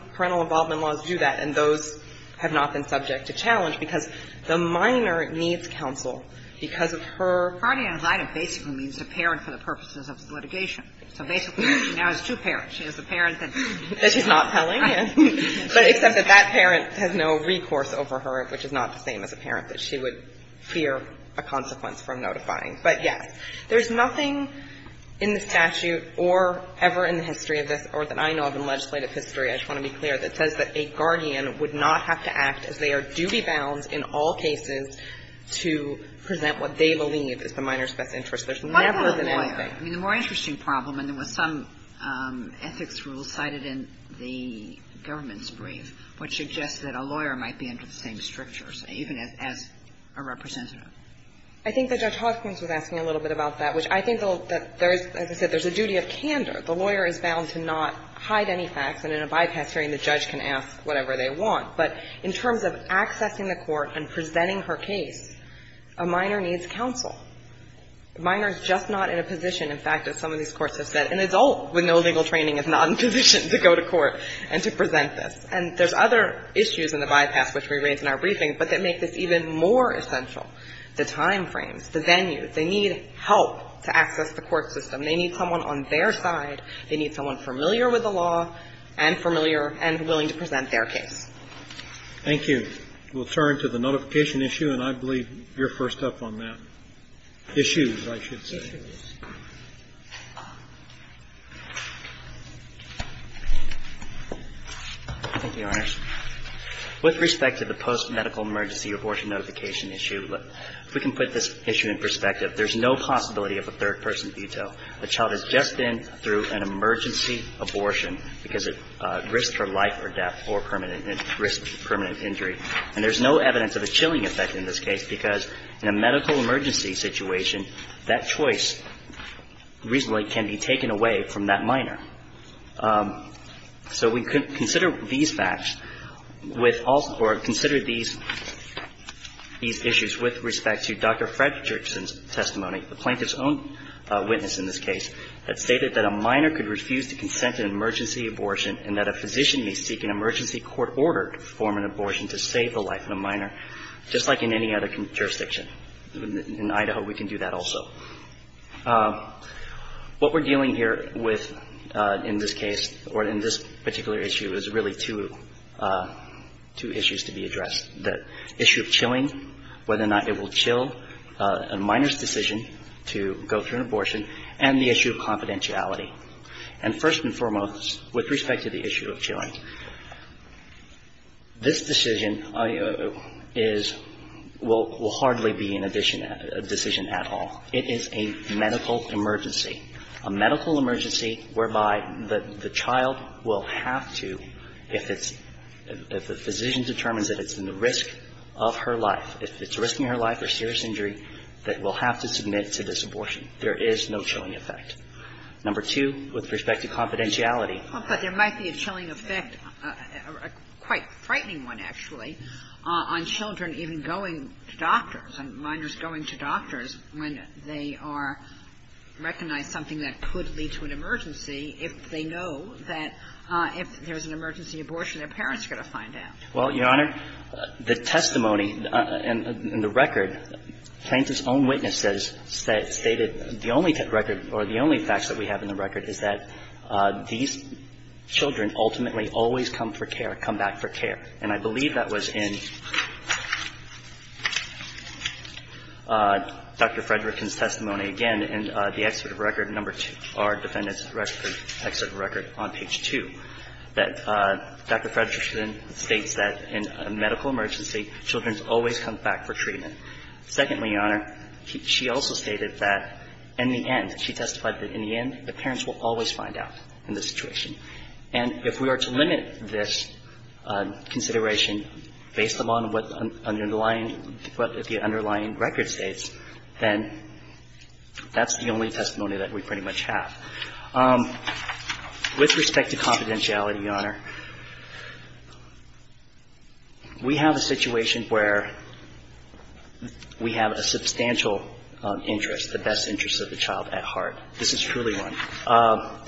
I don't know if that's true, because the minor needs counsel because of her – Kagan Guardian ad litem basically means a parent for the purposes of litigation. So basically, she now has two parents. She has the parent that she's not telling, but except that that parent has no recourse over her, which is not the same as a parent that she would fear a consequence from notifying. But, yes, there's nothing in the statute or ever in the history of this or that I know of in legislative history, I just want to be clear, that says that a guardian would not have to act as they are duty-bound in all cases to present what they believe is the minor's best interest. There's never been anything. Kagan What about a lawyer? I mean, the more interesting problem, and there was some ethics rule cited in the government's brief, which suggests that a lawyer might be under the same strictures, even as a representative. I think that Judge Hopkins was asking a little bit about that, which I think that there is – as I said, there's a duty of candor. The lawyer is bound to not hide any facts, and in a bypass hearing, the judge can ask whatever they want. But in terms of accessing the court and presenting her case, a minor needs counsel. A minor is just not in a position, in fact, as some of these courts have said, an adult with no legal training is not in a position to go to court and to present this. And there's other issues in the bypass, which we raised in our briefing, but that make this even more essential, the time frames, the venue. They need help to access the court system. They need someone on their side. They need someone familiar with the law and familiar and willing to present their case. Thank you. We'll turn to the notification issue, and I believe you're first up on that. Issues, I should say. Thank you, Your Honors. With respect to the post-medical emergency abortion notification issue, if we can put this issue in perspective, there's no possibility of a third-person veto. A child has just been through an emergency abortion because it risked her life or death or permanent risk, permanent injury. And there's no evidence of a chilling effect in this case because in a medical emergency situation, that choice reasonably can be taken away from that minor. So we consider these facts with all or consider these issues with respect to Dr. Fredrickson's plaintiff's own witness in this case that stated that a minor could refuse to consent to an emergency abortion and that a physician may seek an emergency court order to perform an abortion to save the life of a minor, just like in any other jurisdiction. In Idaho, we can do that also. What we're dealing here with in this case or in this particular issue is really two issues to be addressed, the issue of chilling, whether or not it will chill a minor's decision to go through an abortion, and the issue of confidentiality. And first and foremost, with respect to the issue of chilling, this decision is – will hardly be an addition – a decision at all. It is a medical emergency, a medical emergency whereby the child will have to, if it's – if the physician determines that it's in the risk of her life, if it's risking her life or serious injury, that will have to submit to this abortion. There is no chilling effect. Number two, with respect to confidentiality. Well, but there might be a chilling effect, a quite frightening one, actually, on children even going to doctors and minors going to doctors when they are – recognize something that could lead to an emergency if they know that if there's an emergency abortion, their parents are going to find out. Well, Your Honor, the testimony in the record, Plaintiff's own witnesses stated the only record – or the only facts that we have in the record is that these children ultimately always come for care, come back for care. And I believe that was in Dr. Frederickson's testimony, again, in the Excerpt of Record No. 2, our Defendant's Excerpt of Record on page 2, that Dr. Frederickson states that in a medical emergency, children always come back for treatment. Secondly, Your Honor, she also stated that in the end, she testified that in the end, the parents will always find out in this situation. And if we are to limit this consideration based upon what underlying – what the underlying record states, then that's the only testimony that we pretty much have. With respect to confidentiality, Your Honor, we have a situation where we have a substantial interest, the best interest of the child at heart. This is truly one.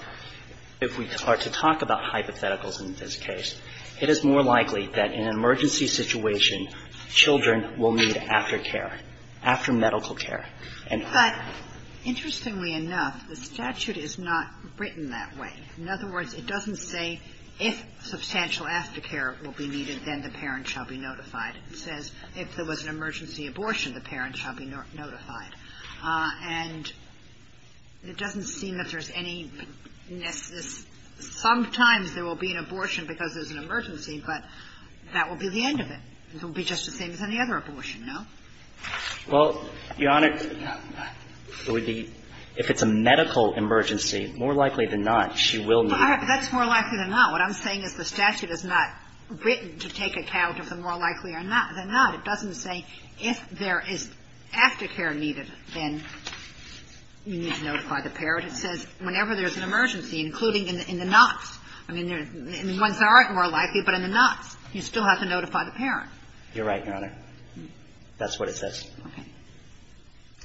If we are to talk about hypotheticals in this case, it is more likely that in an emergency situation, children will need aftercare, aftermedical care. And I – But interestingly enough, the statute is not written that way. In other words, it doesn't say, if substantial aftercare will be needed, then the parent shall be notified. It says, if there was an emergency abortion, the parent shall be notified. And it doesn't seem that there's any – sometimes there will be an abortion because there's an emergency, but that will be the end of it. It will be just the same as any other abortion, no? Well, Your Honor, it would be – if it's a medical emergency, more likely than not, she will need it. That's more likely than not. What I'm saying is the statute is not written to take account of the more likely than not. It doesn't say, if there is aftercare needed, then you need to notify the parent. It says, whenever there's an emergency, including in the nots, I mean, ones that aren't more likely, but in the nots, you still have to notify the parent. You're right, Your Honor. That's what it says. Okay.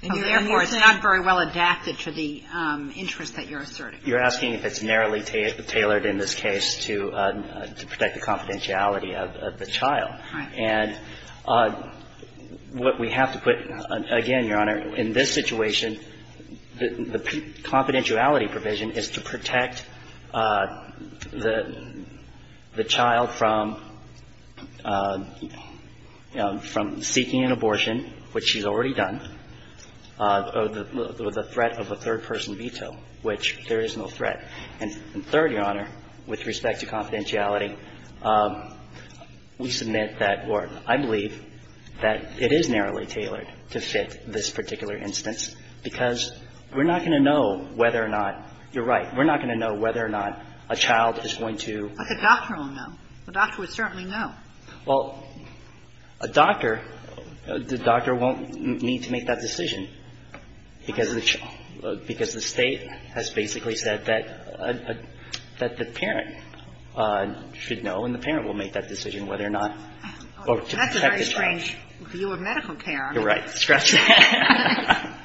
And therefore, it's not very well adapted to the interest that you're asserting. You're asking if it's narrowly tailored in this case to protect the confidentiality of the child. Right. And what we have to put – again, Your Honor, in this situation, the confidentiality provision is to protect the child from – from seeking an abortion, which she's already done, or the threat of a third-person veto, which there is no threat. And third, Your Honor, with respect to confidentiality, we submit that – or I believe that it is narrowly tailored to fit this particular instance, because we're not going to know whether or not – you're right. We're not going to know whether or not a child is going to – But the doctor will know. The doctor would certainly know. Well, a doctor – the doctor won't need to make that decision, because the – because the State has basically said that – that the parent should know, and the parent will make that decision whether or not to protect the child. That's a very strange view of medical care. You're right. Scratch that.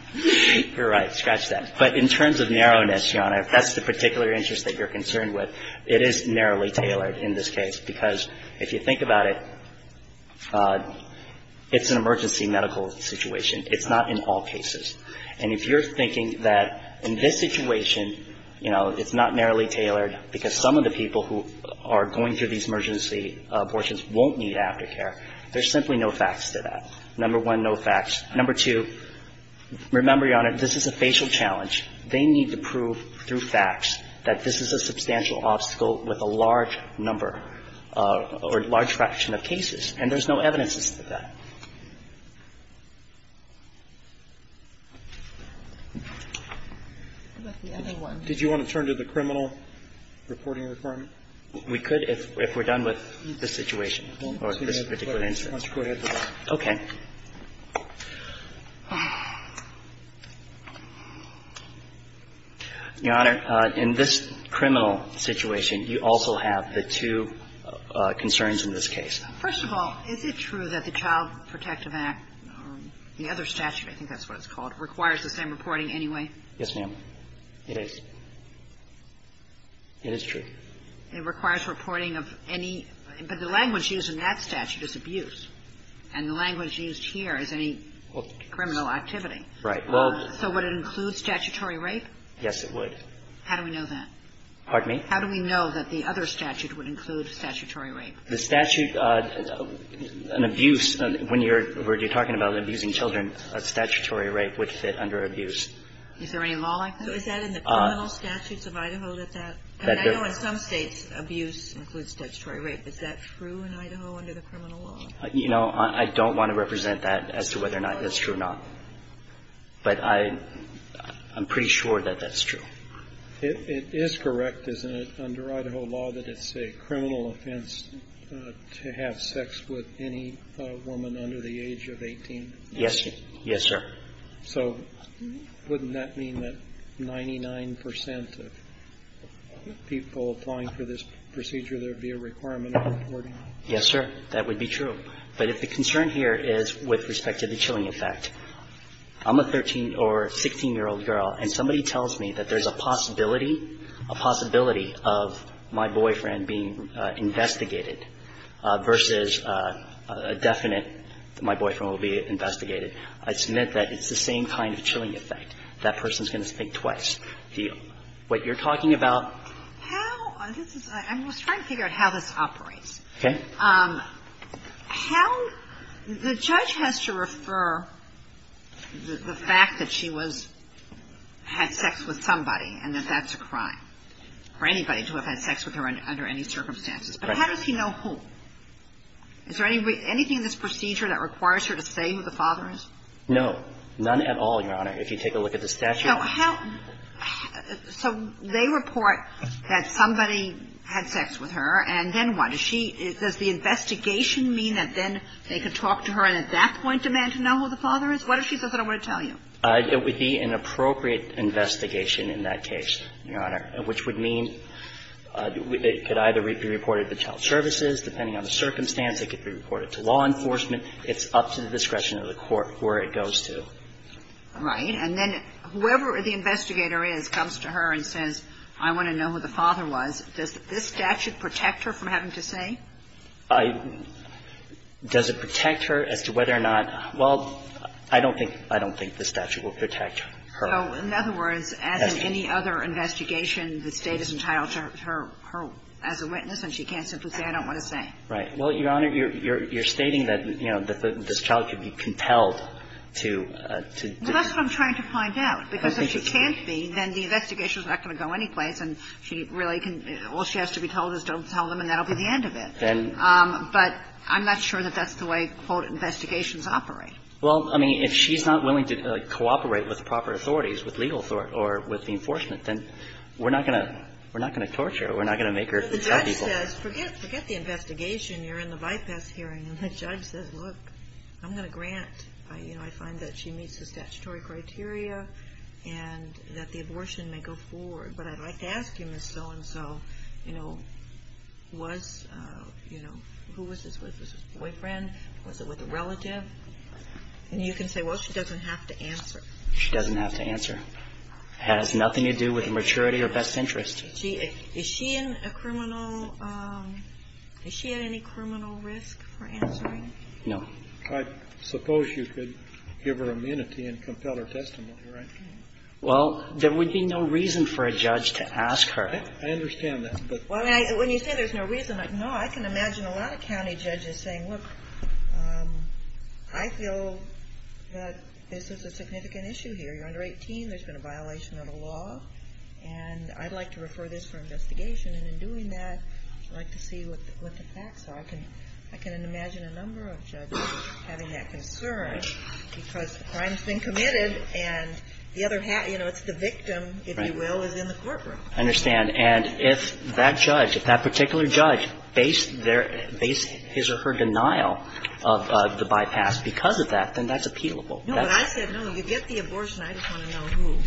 You're right. Scratch that. But in terms of narrowness, Your Honor, if that's the particular interest that you're concerned with, it is narrowly tailored in this case, because if you think about it, it's an emergency medical situation. It's not in all cases. And if you're thinking that in this situation, you know, it's not narrowly tailored because some of the people who are going through these emergency abortions won't need aftercare, there's simply no facts to that. Number one, no facts. Number two, remember, Your Honor, this is a facial challenge. They need to prove through facts that this is a substantial obstacle with a large number or large fraction of cases, and there's no evidences to that. Did you want to turn to the criminal reporting requirement? We could if we're done with this situation or this particular instance. Okay. Your Honor, in this criminal situation, you also have the two concerns in this case. First of all, is it true that the Child Protective Act, the other statute, I think that's what it's called, requires the same reporting anyway? Yes, ma'am. It is. It is true. It requires reporting of any – but the language used in that statute is abuse, and the language used here is any criminal activity. Right. Well – So would it include statutory rape? Yes, it would. How do we know that? Pardon me? How do we know that the other statute would include statutory rape? The statute, an abuse, when you're talking about abusing children, a statutory rape would fit under abuse. Is there any law like that? Is that in the criminal statutes of Idaho that that – and I know in some States abuse includes statutory rape. Is that true in Idaho under the criminal law? You know, I don't want to represent that as to whether or not that's true or not. But I'm pretty sure that that's true. It is correct, isn't it, under Idaho law that it's a criminal offense to have sex with any woman under the age of 18? Yes. Yes, sir. So wouldn't that mean that 99 percent of people applying for this procedure, there would be a requirement of reporting? Yes, sir. That would be true. But if the concern here is with respect to the chilling effect, I'm a 13- or 16-year-old girl, and somebody tells me that there's a possibility, a possibility of my boyfriend being investigated versus a definite that my boyfriend will be investigated, I submit that it's the same kind of chilling effect. That person's going to think twice. What you're talking about – How – this is – I'm just trying to figure out how this operates. Okay. How – the judge has to refer the fact that she was – had sex with somebody and that that's a crime for anybody to have had sex with her under any circumstances. But how does he know who? Is there anything in this procedure that requires her to say who the father is? No. None at all, Your Honor, if you take a look at the statute. So how – so they report that somebody had sex with her, and then what? Does she – does the investigation mean that then they can talk to her and at that point demand to know who the father is? What if she says, I don't want to tell you? It would be an appropriate investigation in that case, Your Honor, which would mean it could either be reported to child services. Depending on the circumstance, it could be reported to law enforcement. It's up to the discretion of the court where it goes to. Right. And then whoever the investigator is comes to her and says, I want to know who the father was. Does this statute protect her from having to say? Does it protect her as to whether or not – well, I don't think – I don't think the statute will protect her. So in other words, as in any other investigation, the State is entitled to her as a witness and she can't simply say, I don't want to say. Right. Well, Your Honor, you're stating that, you know, this child could be compelled to – to do. Well, that's what I'm trying to find out. Because if she can't be, then the investigation is not going to go anyplace and she really can – all she has to be told is don't tell them and that will be the end of it. Then – But I'm not sure that that's the way, quote, investigations operate. Well, I mean, if she's not willing to cooperate with proper authorities, with legal – or with the enforcement, then we're not going to – we're not going to torture her. We're not going to make her tell people. Well, the judge says, forget – forget the investigation. You're in the bypass hearing. And the judge says, look, I'm going to grant – you know, I find that she meets the statutory criteria and that the abortion may go forward. But I'd like to ask you, Ms. So-and-so, you know, was – you know, who was this with? Was this boyfriend? Was it with a relative? And you can say, well, she doesn't have to answer. She doesn't have to answer. It has nothing to do with maturity or best interest. Is she in a criminal – is she at any criminal risk for answering? No. I suppose you could give her immunity and compel her testimony, right? Well, there would be no reason for a judge to ask her. I understand that, but – Well, when you say there's no reason, no, I can imagine a lot of county judges saying, look, I feel that this is a significant issue here. You're under 18. There's been a violation of the law, and I'd like to refer this for investigation. And in doing that, I'd like to see what the facts are. I can – I can imagine a number of judges having that concern because the crime has been committed, and the other – you know, it's the victim, if you will, is in the courtroom. I understand. And if that judge – if that particular judge based their – based his or her denial of the bypass because of that, then that's appealable. No, but I said, no, you get the abortion. I just want to know who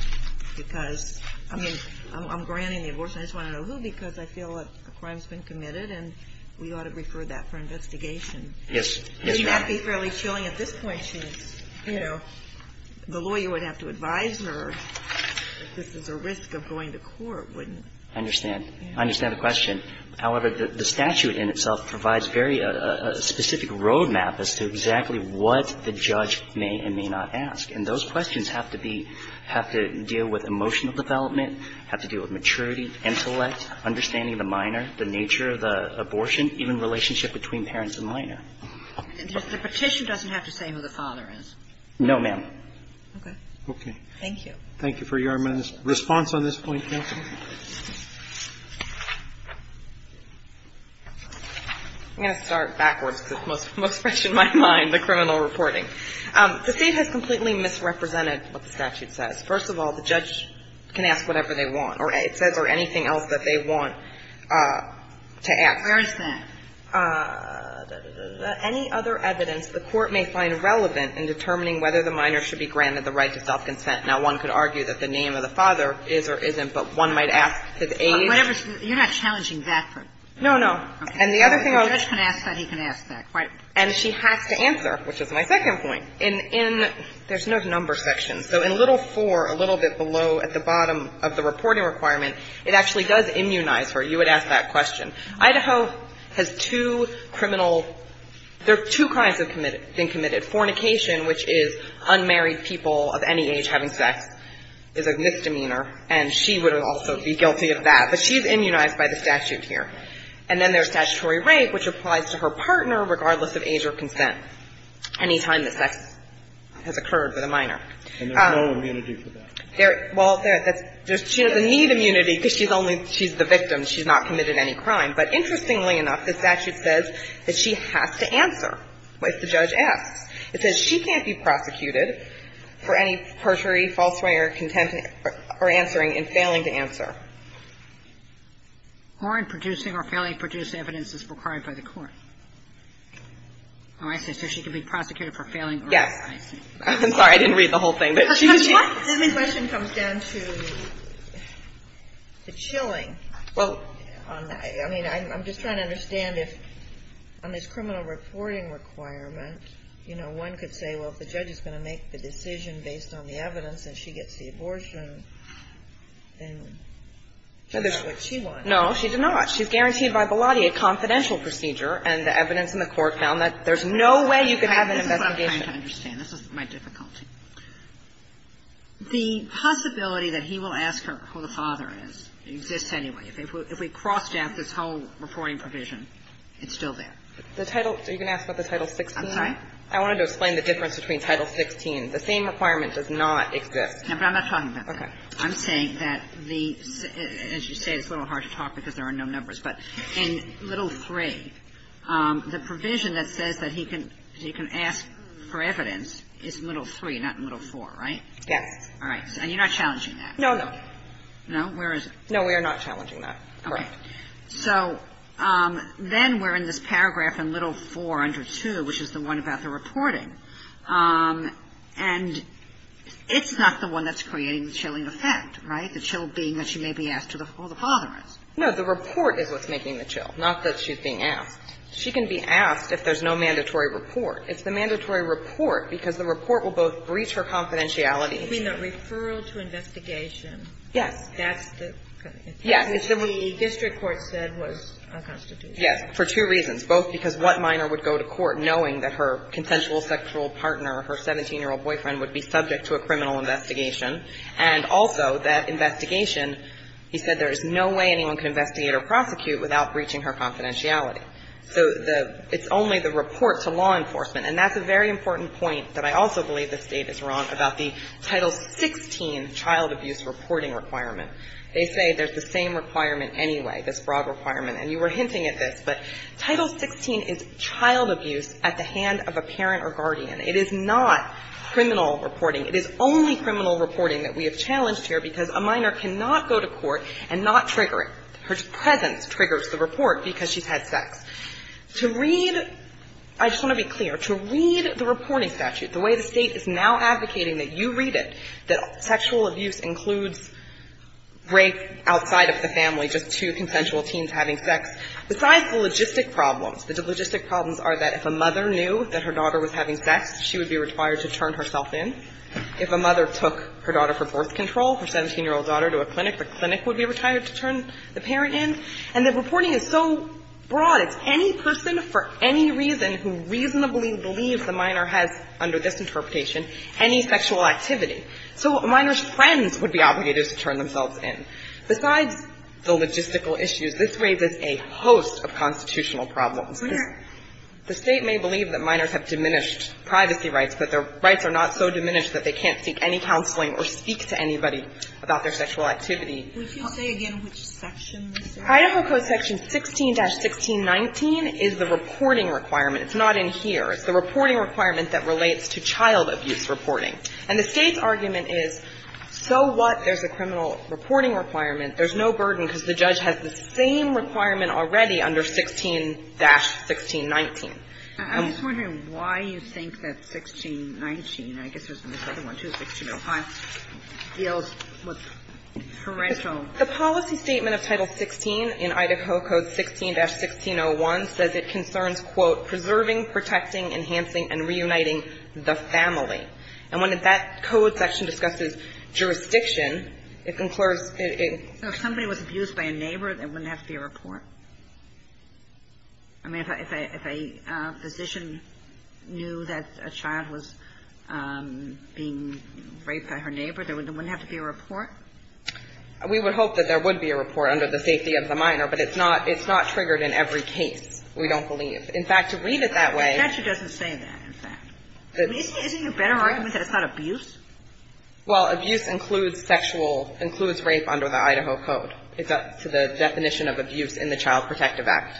because – I mean, I'm granting the abortion. I just want to know who because I feel a crime has been committed, and we ought to refer that for investigation. Yes. Yes, Your Honor. It might be fairly chilling at this point, since, you know, the lawyer would have to advise her that this is a risk of going to court, wouldn't it? I understand. I understand the question. However, the statute in itself provides very specific roadmap as to exactly what the judge may and may not ask. And those questions have to be – have to deal with emotional development, have to deal with maturity, intellect, understanding the minor, the nature of the abortion, even relationship between parents and minor. The petition doesn't have to say who the father is. No, ma'am. Okay. Okay. Thank you. Thank you for your response on this point, counsel. I'm going to start backwards because it's most fresh in my mind, the criminal reporting. The State has completely misrepresented what the statute says. First of all, the judge can ask whatever they want or it says or anything else that they want to ask. Where is that? Any other evidence the court may find relevant in determining whether the minor should be granted the right to self-consent. Now, one could argue that the name of the father is or isn't, but one might ask his age. You're not challenging that, but the judge can ask that, he can ask that. And she has to answer, which is my second point. In – there's no number section. So in little 4, a little bit below at the bottom of the reporting requirement, it actually does immunize her. You would ask that question. Idaho has two criminal – there are two crimes that have been committed. Fornication, which is unmarried people of any age having sex, is a misdemeanor and she would also be guilty of that. But she's immunized by the statute here. And then there's statutory rape, which applies to her partner regardless of age or consent any time that sex has occurred with a minor. And there's no immunity for that. Well, there's – she doesn't need immunity because she's only – she's the victim. And she's not committed any crime. But interestingly enough, the statute says that she has to answer if the judge asks. It says she can't be prosecuted for any perjury, falseware, contempt or answering and failing to answer. Or in producing or failing to produce evidence that's required by the court. Oh, I see. So she can be prosecuted for failing or – I see. Yes. I'm sorry, I didn't read the whole thing. But she was – Because my second question comes down to the chilling. Well, I mean, I'm just trying to understand if on this criminal reporting requirement, you know, one could say, well, if the judge is going to make the decision based on the evidence and she gets the abortion, then she does what she wants. No, she does not. She's guaranteed by Bellotti a confidential procedure. And the evidence in the court found that there's no way you could have an investigation. This is what I'm trying to understand. This is my difficulty. The possibility that he will ask her who the father is exists anyway. If we cross out this whole reporting provision, it's still there. The title – are you going to ask about the Title 16? I'm sorry? I wanted to explain the difference between Title 16. The same requirement does not exist. No, but I'm not talking about that. Okay. I'm saying that the – as you say, it's a little hard to talk because there are no numbers, but in Little III, the provision that says that he can ask for evidence is in Little III, not in Little IV, right? Yes. All right. And you're not challenging that? No, no. No? Where is it? No, we are not challenging that. Correct. Okay. So then we're in this paragraph in Little IV under 2, which is the one about the reporting. And it's not the one that's creating the chilling effect, right? The chill being that she may be asked who the father is. No, the report is what's making the chill, not that she's being asked. She can be asked if there's no mandatory report. It's the mandatory report because the report will both breach her confidentiality I mean, the referral to investigation. Yes. That's the – Yes. The district court said was unconstitutional. Yes. For two reasons. Both because what minor would go to court knowing that her consensual sexual partner, her 17-year-old boyfriend, would be subject to a criminal investigation? And also that investigation, he said there is no way anyone can investigate or prosecute without breaching her confidentiality. So the – it's only the report to law enforcement. And that's a very important point that I also believe the State is wrong about the Title 16 child abuse reporting requirement. They say there's the same requirement anyway, this broad requirement. And you were hinting at this, but Title 16 is child abuse at the hand of a parent or guardian. It is not criminal reporting. It is only criminal reporting that we have challenged here because a minor cannot go to court and not trigger it. Her presence triggers the report because she's had sex. To read – I just want to be clear. To read the reporting statute the way the State is now advocating that you read it, that sexual abuse includes rape outside of the family, just two consensual teens having sex, besides the logistic problems, the logistic problems are that if a mother knew that her daughter was having sex, she would be required to turn herself in. If a mother took her daughter for birth control, her 17-year-old daughter to a clinic, the clinic would be required to turn the parent in. And the reporting is so broad. It's any person for any reason who reasonably believes the minor has, under this interpretation, any sexual activity. So a minor's friends would be obligated to turn themselves in. Besides the logistical issues, this raises a host of constitutional problems. The State may believe that minors have diminished privacy rights, but their rights are not so diminished that they can't seek any counseling or speak to anybody about their sexual activity. Sotomayor, would you say again which section this is? Heidepfer Code section 16-1619 is the reporting requirement. It's not in here. It's the reporting requirement that relates to child abuse reporting. And the State's argument is, so what? There's a criminal reporting requirement. There's no burden because the judge has the same requirement already under 16-1619. I'm just wondering why you think that 1619, I guess there's another one too, 1605, deals with parental. The policy statement of Title 16 in Idaho Code 16-1601 says it concerns, quote, preserving, protecting, enhancing, and reuniting the family. And when that code section discusses jurisdiction, it conclures that it can't be used by a neighbor. There wouldn't have to be a report. I mean, if a physician knew that a child was being raped by her neighbor, there wouldn't have to be a report? We would hope that there would be a report under the safety of the minor, but it's not triggered in every case, we don't believe. In fact, to read it that way — The statute doesn't say that, in fact. Isn't it a better argument that it's not abuse? Well, abuse includes sexual — includes rape under the Idaho Code. It's up to the definition of abuse in the Child Protective Act.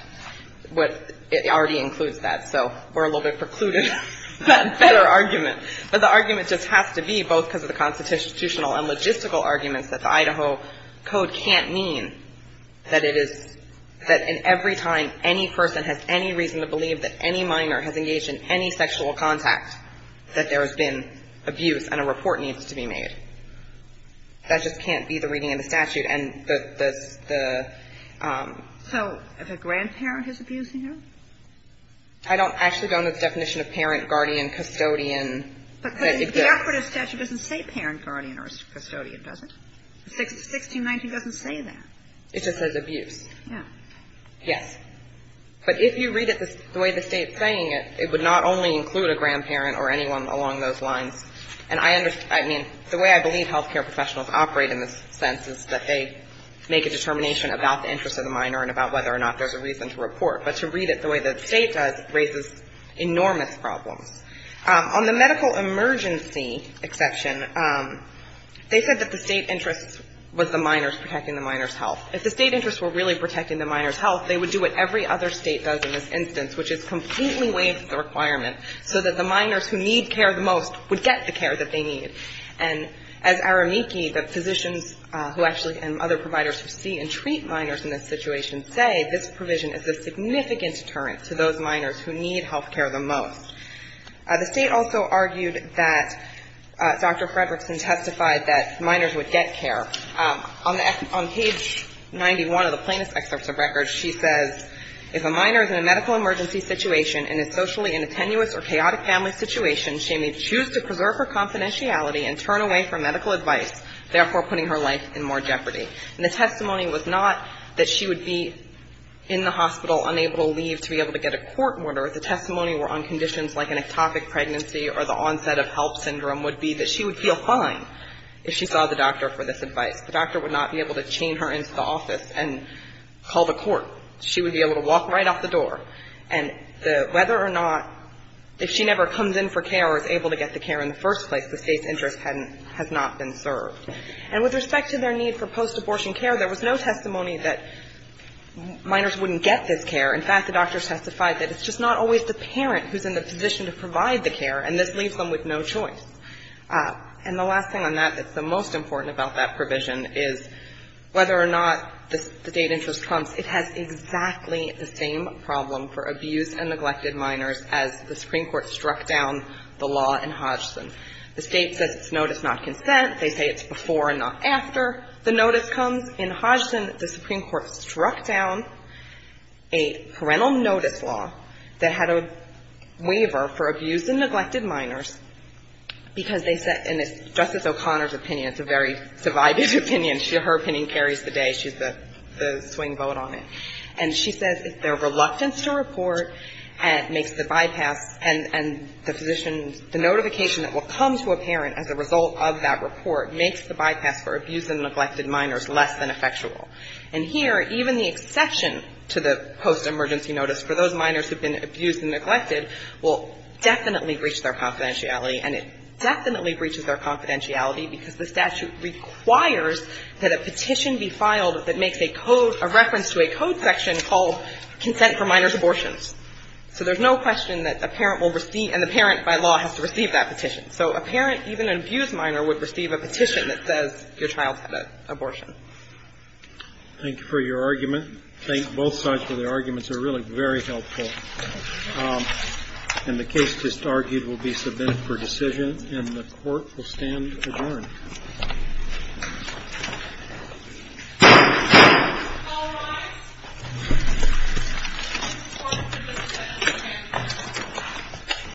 It already includes that, so we're a little bit precluded on that better argument. But the argument just has to be, both because of the constitutional and logistical arguments, that the Idaho Code can't mean that it is — that in every time any person has any reason to believe that any minor has engaged in any sexual contact, that there has been abuse and a report needs to be made. That just can't be the reading in the statute, and the — the — So if a grandparent is abusing her? I don't — actually, don't know the definition of parent, guardian, custodian. But the equitable statute doesn't say parent, guardian, or custodian, does it? 1619 doesn't say that. It just says abuse. Yeah. Yes. But if you read it the way the State's saying it, it would not only include a grandparent or anyone along those lines. And I — I mean, the way I believe health care professionals operate in this sense is that they make a determination about the interest of the minor and about whether or not there's a reason to report. But to read it the way the State does raises enormous problems. On the medical emergency exception, they said that the State interest was the minors protecting the minors' health. If the State interests were really protecting the minors' health, they would do what every other State does in this instance, which is completely waive the requirement so that the minors who need care the most would get the care that they need. And as Aramiki, the physicians who actually — and other providers who see and treat minors in this situation say, this provision is a significant deterrent to those minors who need health care the most. The State also argued that — Dr. Fredrickson testified that minors would get care. On the — on page 91 of the plaintiff's excerpt of records, she says, If a minor is in a medical emergency situation and is socially in a tenuous or chaotic family situation, she may choose to preserve her confidentiality and turn away from medical advice, therefore putting her life in more jeopardy. And the testimony was not that she would be in the hospital unable to leave to be able to get a court order. The testimony were on conditions like an ectopic pregnancy or the onset of help syndrome would be that she would feel fine if she saw the doctor for this advice. The doctor would not be able to chain her into the office and call the court. She would be able to walk right off the door. And the — whether or not if she never comes in for care or is able to get the care in the first place, the State's interest hadn't — has not been served. And with respect to their need for post-abortion care, there was no testimony that minors wouldn't get this care. In fact, the doctors testified that it's just not always the parent who's in the position to provide the care, and this leaves them with no choice. And the last thing on that that's the most important about that provision is whether or not the State interest comes, it has exactly the same problem for abused and neglected minors as the Supreme Court struck down the law in Hodgson. The State says it's notice, not consent. They say it's before and not after the notice comes. In Hodgson, the Supreme Court struck down a parental notice law that had a waiver for abused and neglected minors because they said — and it's Justice O'Connor's opinion. It's a very divided opinion. Her opinion carries the day. She's the swing vote on it. And she says their reluctance to report makes the bypass and the physician's — the notification that will come to a parent as a result of that report makes the bypass for abused and neglected minors less than effectual. And here, even the exception to the post-emergency notice for those minors who have been abused and neglected will definitely breach their confidentiality, and it definitely breaches their confidentiality, because the statute requires that a petition be filed that makes a code — a reference to a code section called consent for minors' abortions. So there's no question that a parent will receive — and the parent, by law, has to receive that petition. So a parent, even an abused minor, would receive a petition that says your child's had an abortion. Thank you for your argument. Thank both sides for their arguments. They're really very helpful. And the case just argued will be submitted for decision, and the court will stand adjourned.